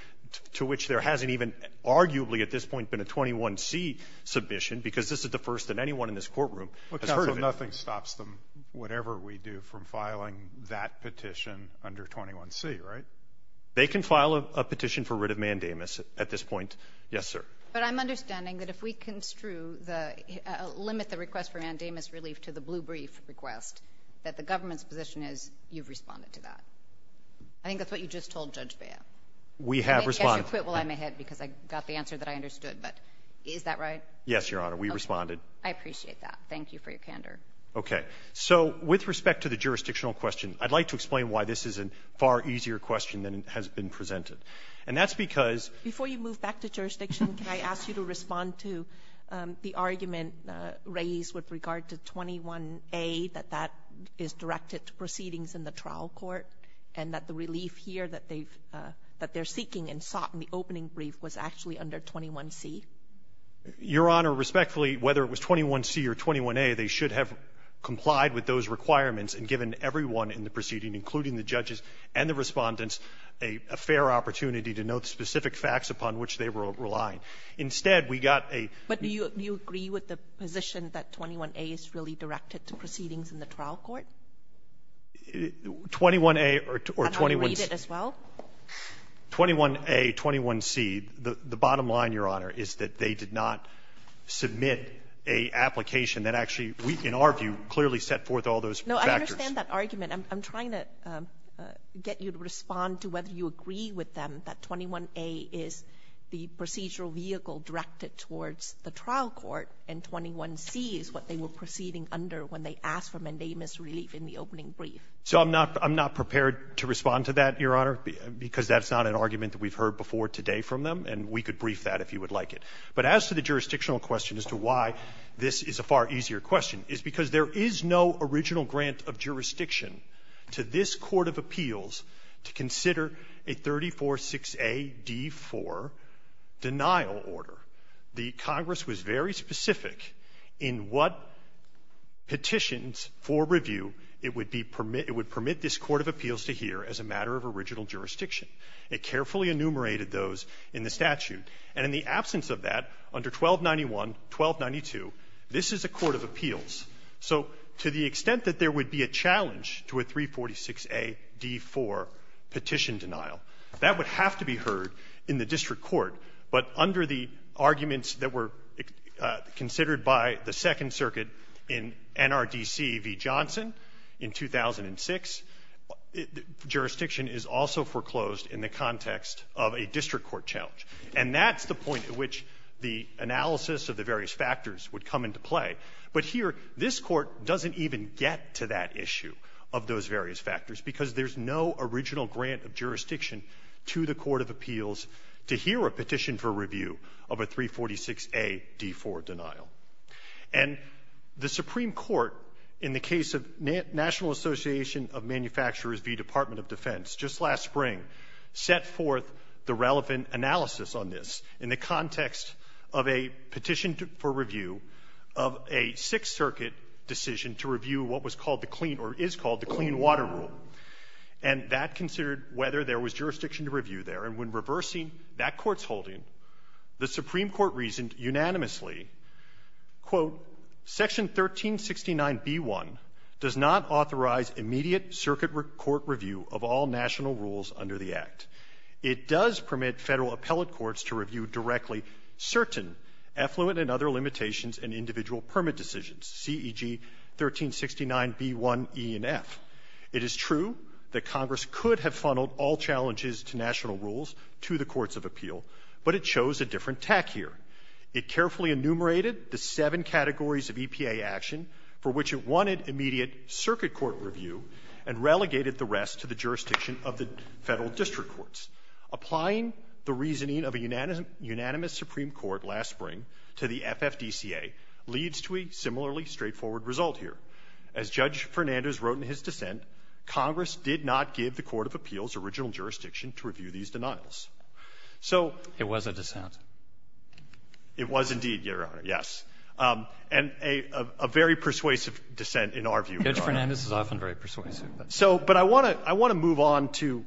to which there hasn't even arguably at this point been a 21C submission, because this is the first that anyone in this courtroom has heard of it. Well, counsel, nothing stops them, whatever we do, from filing that petition under 21C, right? They can file a petition for writ of mandamus at this point, yes, sir. But I'm understanding that if we construe the ---- limit the request for mandamus relief to the blue brief request, that the government's position is you've responded to that. I think that's what you just told Judge Baya. We have responded. I think you should quit while I'm ahead, because I got the answer that I understood. But is that right? Yes, Your Honor. We responded. Okay. I appreciate that. Thank you for your candor. Okay. So with respect to the jurisdictional question, I'd like to explain why this is a far easier question than it has been presented. And that's because ---- Before you move back to jurisdiction, can I ask you to respond to the argument that was raised with regard to 21A, that that is directed to proceedings in the trial court, and that the relief here that they've ---- that they're seeking and sought in the opening brief was actually under 21C? Your Honor, respectfully, whether it was 21C or 21A, they should have complied with those requirements and given everyone in the proceeding, including the judges and the Respondents, a fair opportunity to note specific facts upon which they were relying. Instead, we got a ---- But do you agree with the position that 21A is really directed to proceedings in the trial court? 21A or 21C ---- Can I read it as well? 21A, 21C, the bottom line, Your Honor, is that they did not submit an application that actually, in our view, clearly set forth all those factors. No, I understand that argument. I'm trying to get you to respond to whether you agree with them that 21A is the procedural vehicle directed towards the trial court, and 21C is what they were proceeding under when they asked for mandamus relief in the opening brief. So I'm not ---- I'm not prepared to respond to that, Your Honor, because that's not an argument that we've heard before today from them, and we could brief that if you would like it. But as to the jurisdictional question as to why this is a far easier question is because there is no original grant of jurisdiction to this court of appeals to consider a 346-A-D-4 denial order. The Congress was very specific in what petitions for review it would be permit ---- it would permit this court of appeals to hear as a matter of original jurisdiction. It carefully enumerated those in the statute. And in the absence of that, under 1291, 1292, this is a court of appeals. So to the extent that there would be a challenge to a 346-A-D-4 petition denial, that would have to be heard in the district court, but under the arguments that were considered by the Second Circuit in NRDC v. Johnson in 2006, jurisdiction is also foreclosed in the context of a district court challenge. And that's the point at which the analysis of the various factors would come into play. But here, this Court doesn't even get to that issue of those various factors because there's no original grant of jurisdiction to the court of appeals to hear a petition for review of a 346-A-D-4 denial. And the Supreme Court, in the case of National Association of Manufacturers v. Department of Defense, just last spring, set forth the relevant analysis on this in the context of a petition for review of a Sixth Circuit decision to review what was called the clean or is called the clean water rule. And that considered whether there was jurisdiction to review there. And when reversing that court's holding, the Supreme Court reasoned unanimously, quote, Section 1369b1 does not authorize immediate circuit court review of all national rules under the Act. It does permit Federal appellate courts to review directly certain effluent and other limitations in individual permit decisions, C.E.G. 1369b1e and f. It is true that Congress could have funneled all challenges to national rules to the courts of appeal, but it chose a different tack here. It carefully enumerated the seven categories of EPA action for which it wanted immediate circuit court review and relegated the rest to the jurisdiction of the Federal district courts. Applying the reasoning of a unanimous Supreme Court last spring to the FFDCA leads to a similarly straightforward result here. As Judge Fernandes wrote in his dissent, Congress did not give the court of appeals original jurisdiction to review these denials. So -- It was a dissent. It was indeed, Your Honor, yes. And a very persuasive dissent in our view, Your Honor. Judge Fernandes is often very persuasive. So, but I want to move on to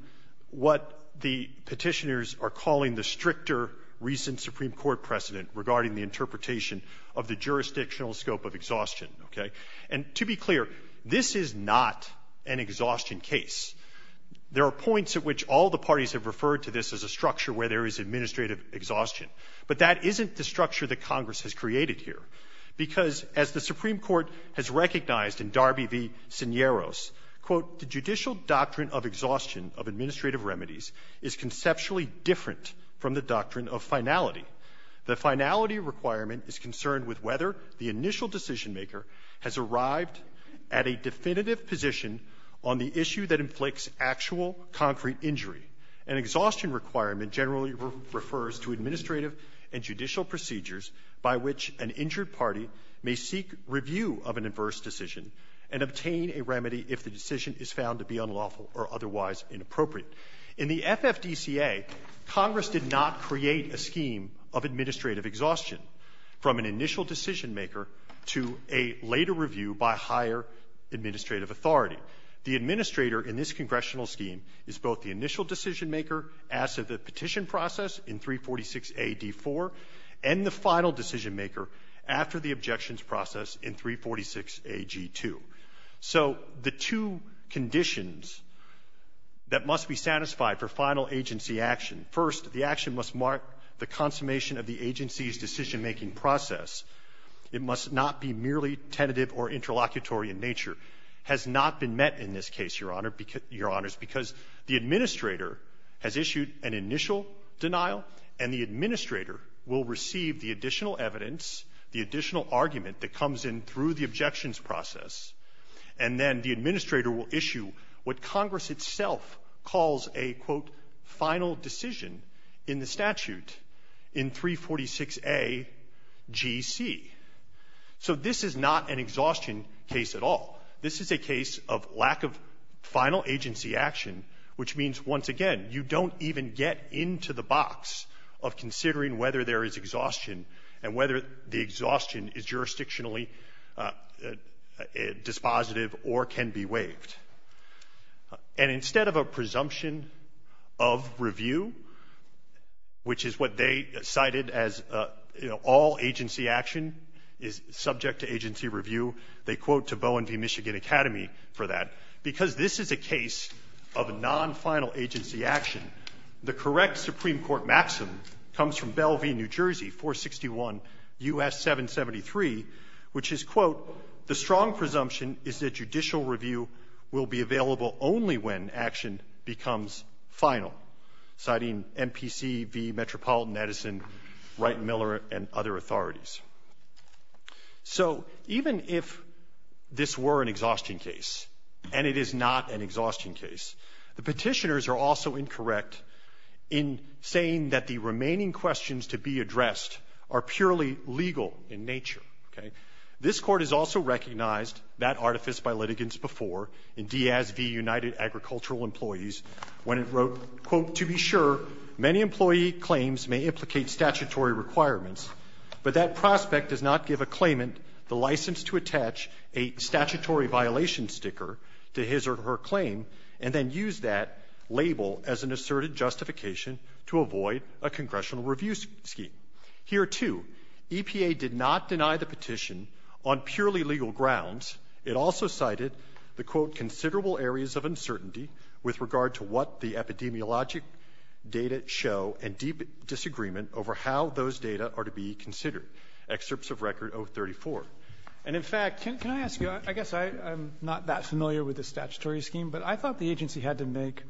what the Petitioners are calling the stricter recent Supreme Court precedent regarding the interpretation of the jurisdictional scope of exhaustion, okay? And to be clear, this is not an exhaustion case. There are points at which all the parties have referred to this as a structure where there is administrative exhaustion, but that isn't the structure that Congress has created here, because as the Supreme Court has recognized in Darby v. Sinieros, quote, the judicial doctrine of exhaustion of administrative remedies is conceptually different from the doctrine of finality. The finality requirement is concerned with whether the initial decisionmaker has arrived at a definitive position on the issue that inflicts actual concrete injury. An exhaustion requirement generally refers to administrative and judicial procedures by which an injured party may seek review of an adverse decision and obtain a remedy if the decision is found to be unlawful or otherwise inappropriate. In the FFDCA, Congress did not create a scheme of administrative exhaustion from an initial decisionmaker to a later review by higher administrative authority. The administrator in this congressional scheme is both the initial decisionmaker as to the petition process in 346a.d.4 and the final decisionmaker after the objections process in 346a.g.2. So the two conditions that must be satisfied for final agency action, first, the action must mark the consummation of the agency's case, Your Honor, because the administrator has issued an initial denial, and the administrator will receive the additional evidence, the additional argument that comes in through the objections process, and then the administrator will issue what Congress itself calls a, quote, final decision in the statute in 346a.g.c. So this is not an exhaustion case at all. This is a case of lack of final agency action, which means, once again, you don't even get into the box of considering whether there is exhaustion and whether the exhaustion is jurisdictionally dispositive or can be waived. And instead of a presumption of review, which is what they cited as, you know, all agency action is subject to agency review, they quote to Bowen v. Michigan Academy for that, because this is a case of non-final agency action. The correct Supreme Court maximum comes from Bell v. New Jersey 461 U.S. 773, which is, quote, the strong presumption is that judicial review will be available only when action becomes final, citing MPC v. Metropolitan Edison, Wright & Miller, and other authorities. So even if this were an exhaustion case, and it is not an exhaustion case, the Petitioners are also incorrect in saying that the remaining questions to be addressed are purely legal in nature, okay? This Court has also recognized that artifice by litigants before in Diaz v. United Agricultural Employees when it wrote, quote, to be sure many employee claims may implicate statutory requirements, but that prospect does not give a claimant the license to attach a statutory violation sticker to his or her claim and then use that label as an asserted justification to avoid a congressional review scheme. Here, too, EPA did not deny the petition on purely legal grounds. It also cited the, quote, considerable areas of uncertainty with regard to what the epidemiologic data show and deep disagreement over how those data are to be considered. Excerpts of Record 034. And, in fact, can I ask you, I guess I'm not that familiar with the statutory scheme, but I thought the agency had to make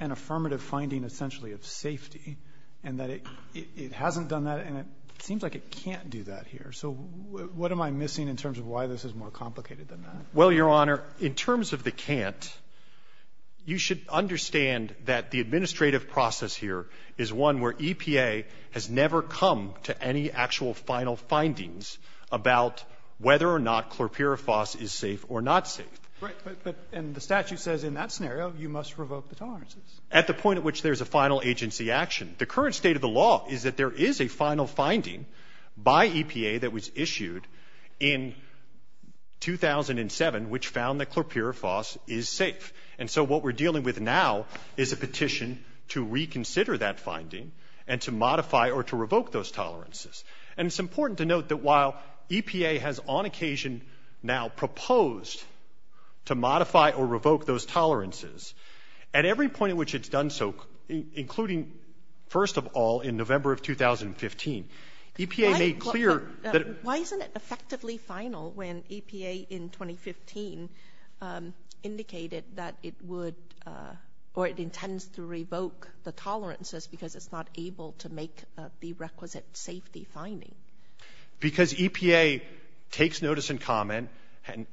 an affirmative finding essentially of safety and that it hasn't done that and it seems like it can't do that here. So what am I missing in terms of why this is more complicated than that? Well, Your Honor, in terms of the can't, you should understand that the administrative process here is one where EPA has never come to any actual final findings about whether or not chlorpyrifos is safe or not safe. Right. But the statute says in that scenario you must revoke the tolerances. At the point at which there's a final agency action, the current state of the law is that there is a final finding by EPA that was issued in 2007 which found that chlorpyrifos is safe. And so what we're dealing with now is a petition to reconsider that finding and to modify or to revoke those tolerances. And it's important to note that while EPA has on occasion now proposed to modify or revoke those tolerances, at every point at which it's done so, including, first of all, in November of 2015, EPA made clear that it Why isn't it effectively final when EPA in 2015 indicated that it would or it intends to revoke the tolerances because it's not able to make a prerequisite safety finding? Because EPA takes notice and comment,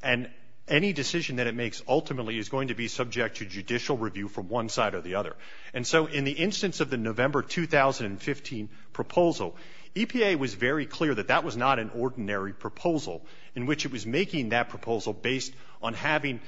and any decision that it makes ultimately is going to be subject to judicial review from one side or the other. And so in the instance of the November 2015 proposal, EPA was very clear that that was not an ordinary proposal in which it was making that proposal based on having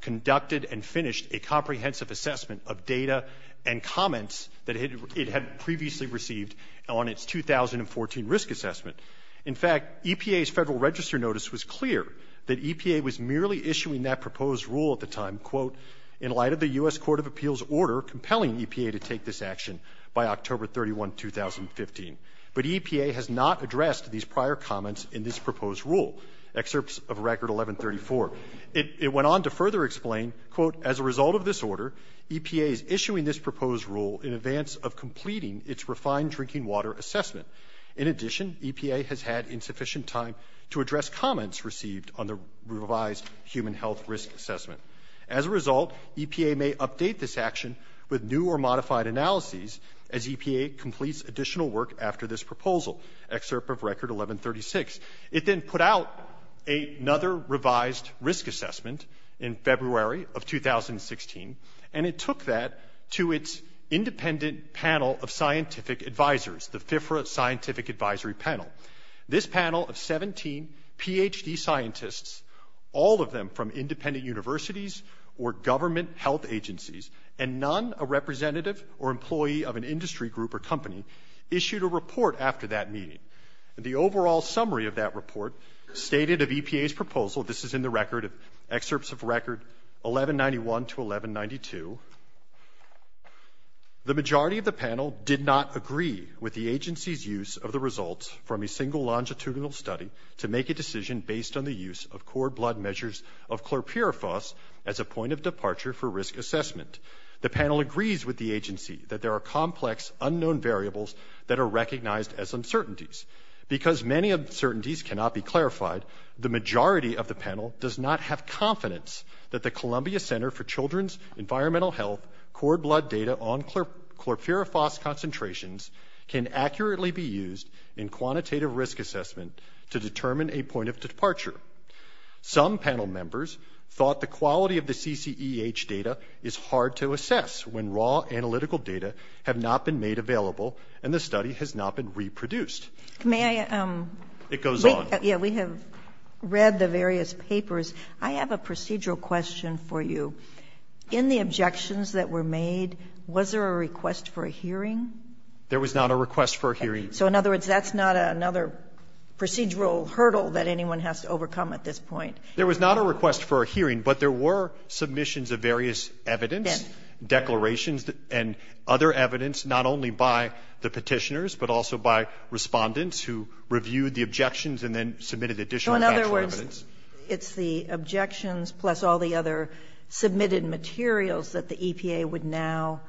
conducted and finished a comprehensive assessment of data and comments that it had previously received on its 2014 risk assessment. In fact, EPA's Federal Register notice was clear that EPA was merely issuing that proposed rule at the time, quote, in light of the U.S. Court of Appeals order compelling EPA to take this action by October 31, 2015. But EPA has not addressed these prior comments in this proposed rule. Excerpts of Record 1134. It went on to further explain, quote, as a result of this order, EPA is issuing this proposed rule in advance of completing its refined drinking water assessment. In addition, EPA has had insufficient time to address comments received on the revised human health risk assessment. As a result, EPA may update this action with new or modified analyses as EPA completes additional work after this proposal. Excerpt of Record 1136. It then put out another revised risk assessment in February of 2016, and it took that to its independent panel of scientific advisors, the FIFRA Scientific Advisory Panel. This panel of 17 Ph.D. scientists, all of them from independent universities or government health agencies, and none a representative or employee of an industry group or company, issued a report after that meeting. The overall summary of that report stated of EPA's proposal, this is in the Record Excerpts of Record 1191 to 1192, the majority of the panel did not agree with the agency's use of the results from a single longitudinal study to make a decision based on the use of core blood measures of chlorpyrifos as a point of departure for risk assessment. The panel agrees with the agency that there are complex unknown variables that are recognized as uncertainties. Because many uncertainties cannot be clarified, the majority of the panel does not have confidence that the Columbia Center for Children's Environmental Health core blood data on chlorpyrifos concentrations can accurately be used in quantitative risk assessment to determine a point of departure. Some panel members thought the quality of the CCEH data is hard to assess when raw analytical data have not been made available and the study has not been reproduced. Sotomayor, we have read the various papers. I have a procedural question for you. In the objections that were made, was there a request for a hearing? There was not a request for a hearing. So in other words, that's not another procedural hurdle that anyone has to overcome at this point. There was not a request for a hearing, but there were submissions of various evidence, declarations, and other evidence, not only by the Petitioners, but also by Respondents who reviewed the objections and then submitted additional factual evidence. So in other words, it's the objections plus all the other submitted materials that the EPA would now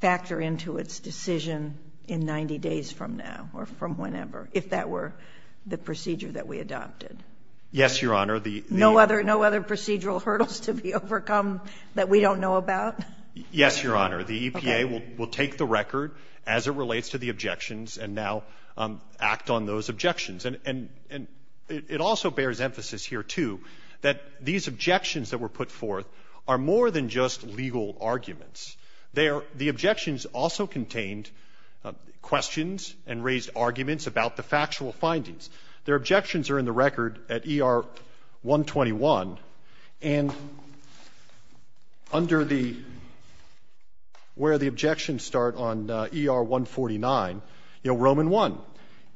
factor into its decision in 90 days from now or from whenever, if that were the procedure that we adopted? Yes, Your Honor. No other procedural hurdles to be overcome that we don't know about? Yes, Your Honor. The EPA will take the record as it relates to the objections and now act on those objections. And it also bears emphasis here, too, that these objections that were put forth are more than just legal arguments. They are the objections also contained questions and raised arguments about the factual findings. Their objections are in the record at ER 121. And under the where the objections start on ER 149, Roman I,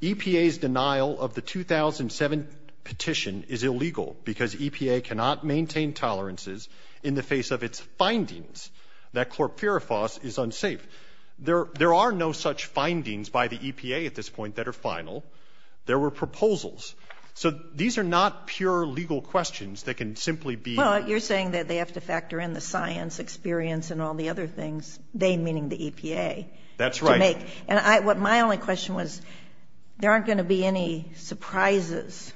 EPA's denial of the 2007 petition is illegal because EPA cannot maintain tolerances in the face of its findings that chlorpyrifos is unsafe. There are no such findings by the EPA at this point that are final. There were proposals. So these are not pure legal questions that can simply be. Well, you're saying that they have to factor in the science experience and all the other things, they meaning the EPA. That's right. And what my only question was, there aren't going to be any surprises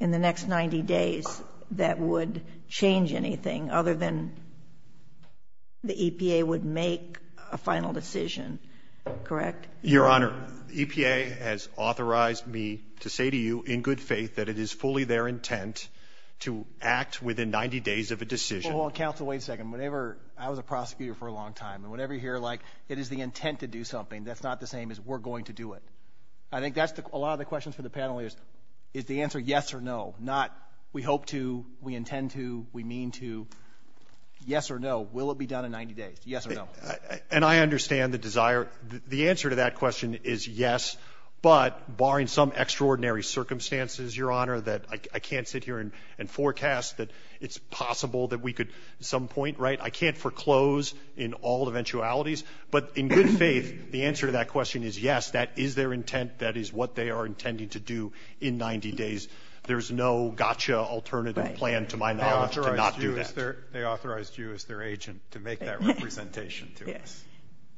in the next 90 days that would change anything other than the EPA would make a final decision, correct? Your Honor, EPA has authorized me to say to you in good faith that it is fully their intent to act within 90 days of a decision. Well, Counsel, wait a second. Whenever I was a prosecutor for a long time, and whenever you hear, like, it is the intent to do something, that's not the same as we're going to do it. I think that's a lot of the questions for the panel is, is the answer yes or no, not we hope to, we intend to, we mean to. Yes or no, will it be done in 90 days? Yes or no? And I understand the desire. The answer to that question is yes, but barring some extraordinary circumstances, Your Honor, that I can't sit here and forecast that it's possible that we could at some point, right, I can't foreclose in all eventualities, but in good faith, the answer to that question is yes, that is their intent, that is what they are intending to do in 90 days. There's no gotcha alternative plan to my knowledge to not do that. They authorized you as their agent to make that representation to us. Yes.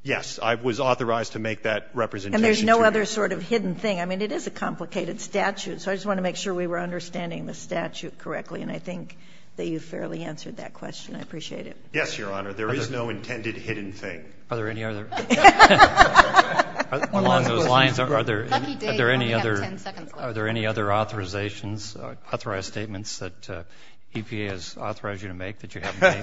Yes, I was authorized to make that representation to you. And there's no other sort of hidden thing. I mean, it is a complicated statute, so I just wanted to make sure we were understanding the statute correctly, and I think that you fairly answered that question. I appreciate it. Yes, Your Honor. There is no intended hidden thing. Are there any other? Along those lines, are there any other authorizations, authorized statements that EPA has authorized you to make that you haven't made?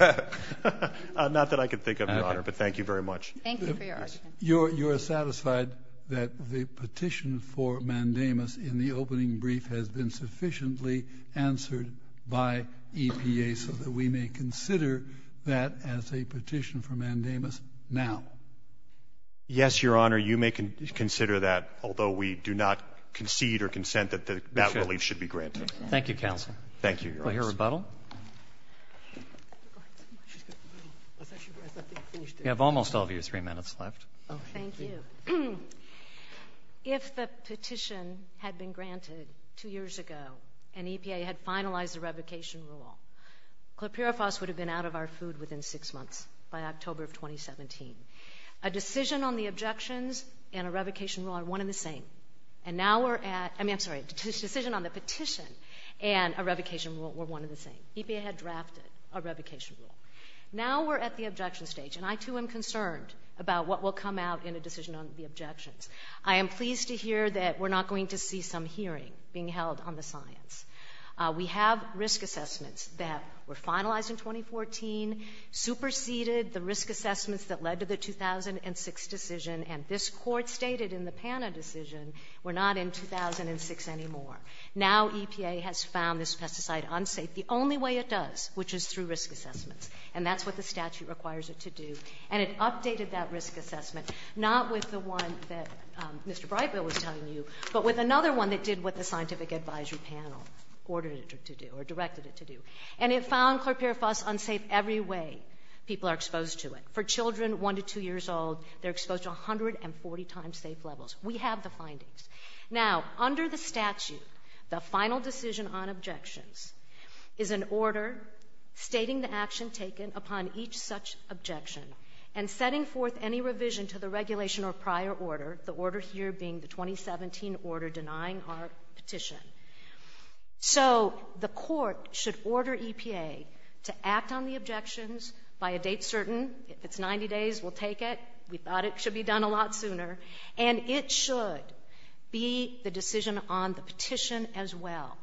Not that I can think of, Your Honor, but thank you very much. Thank you for your question. You are satisfied that the petition for mandamus in the opening brief has been sufficiently answered by EPA so that we may consider that as a petition for mandamus now? Yes, Your Honor, you may consider that, although we do not concede or consent that that relief should be granted. Thank you, counsel. Thank you, Your Honor. We'll hear rebuttal. You have almost all of your three minutes left. Thank you. If the petition had been granted two years ago, and EPA had finalized the revocation rule, Clerk Pirofos would have been out of our food within six months by October of 2017. A decision on the objections and a revocation rule are one and the same. And now we're at, I mean, I'm sorry, a decision on the petition and a revocation rule were one and the same. EPA had drafted a revocation rule. Now we're at the objection stage, and I too am concerned about what will come out in a decision on the objections. I am pleased to hear that we're not going to see some hearing being held on the science. We have risk assessments that were finalized in 2014, superseded the risk assessments that led to the 2006 decision, and this Court stated in the PANA decision, we're not in 2006 anymore. Now EPA has found this pesticide unsafe the only way it does, which is through risk assessments. And that's what the statute requires it to do. And it updated that risk assessment, not with the one that Mr. Brightville was telling you, but with another one that did what the scientific advisory panel ordered it to do or directed it to do. And it found Clerk Pirofos unsafe every way people are exposed to it. For children one to two years old, they're exposed to 140 times safe levels. We have the findings. Now under the statute, the final decision on objections is an order stating the action taken upon each such objection and setting forth any revision to the regulation or prior order, the order here being the 2017 order denying our petition. So the Court should order EPA to act on the objections by a date certain. If it's 90 days, we'll take it. We thought it should be done a lot sooner. And it should be the decision on the petition as well,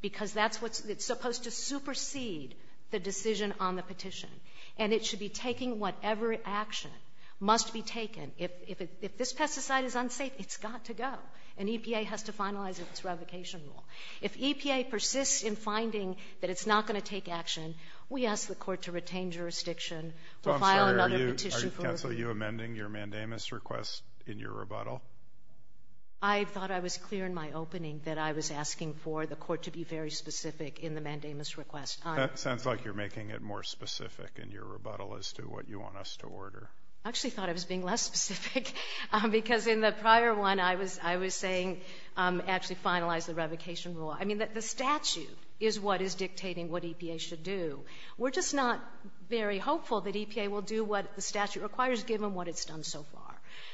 because that's what's supposed to supersede the decision on the petition. And it should be taking whatever action must be taken. If this pesticide is unsafe, it's got to go. And EPA has to finalize its revocation rule. If EPA persists in finding that it's not going to take action, we ask the Court to retain jurisdiction. We'll file another petition. Are you amending your mandamus request in your rebuttal? I thought I was clear in my opening that I was asking for the Court to be very specific in the mandamus request. That sounds like you're making it more specific in your rebuttal as to what you want us to order. I actually thought I was being less specific, because in the prior one, I was saying actually finalize the revocation rule. I mean, the statute is what is dictating what EPA should do. We're just not very hopeful that EPA will do what the statute requires, given what it's done so far.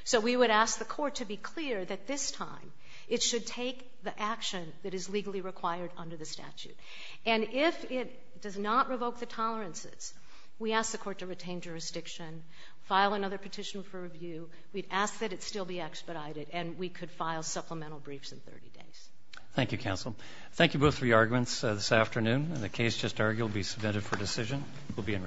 So we would ask the Court to be clear that this time it should take the action that is legally required under the statute. And if it does not revoke the tolerances, we ask the Court to retain jurisdiction, file another petition for review. We'd ask that it still be expedited, and we could file supplemental briefs in 30 days. Thank you, Counsel. Thank you both for your arguments this afternoon. The case just argued will be submitted for decision. We'll be in recess.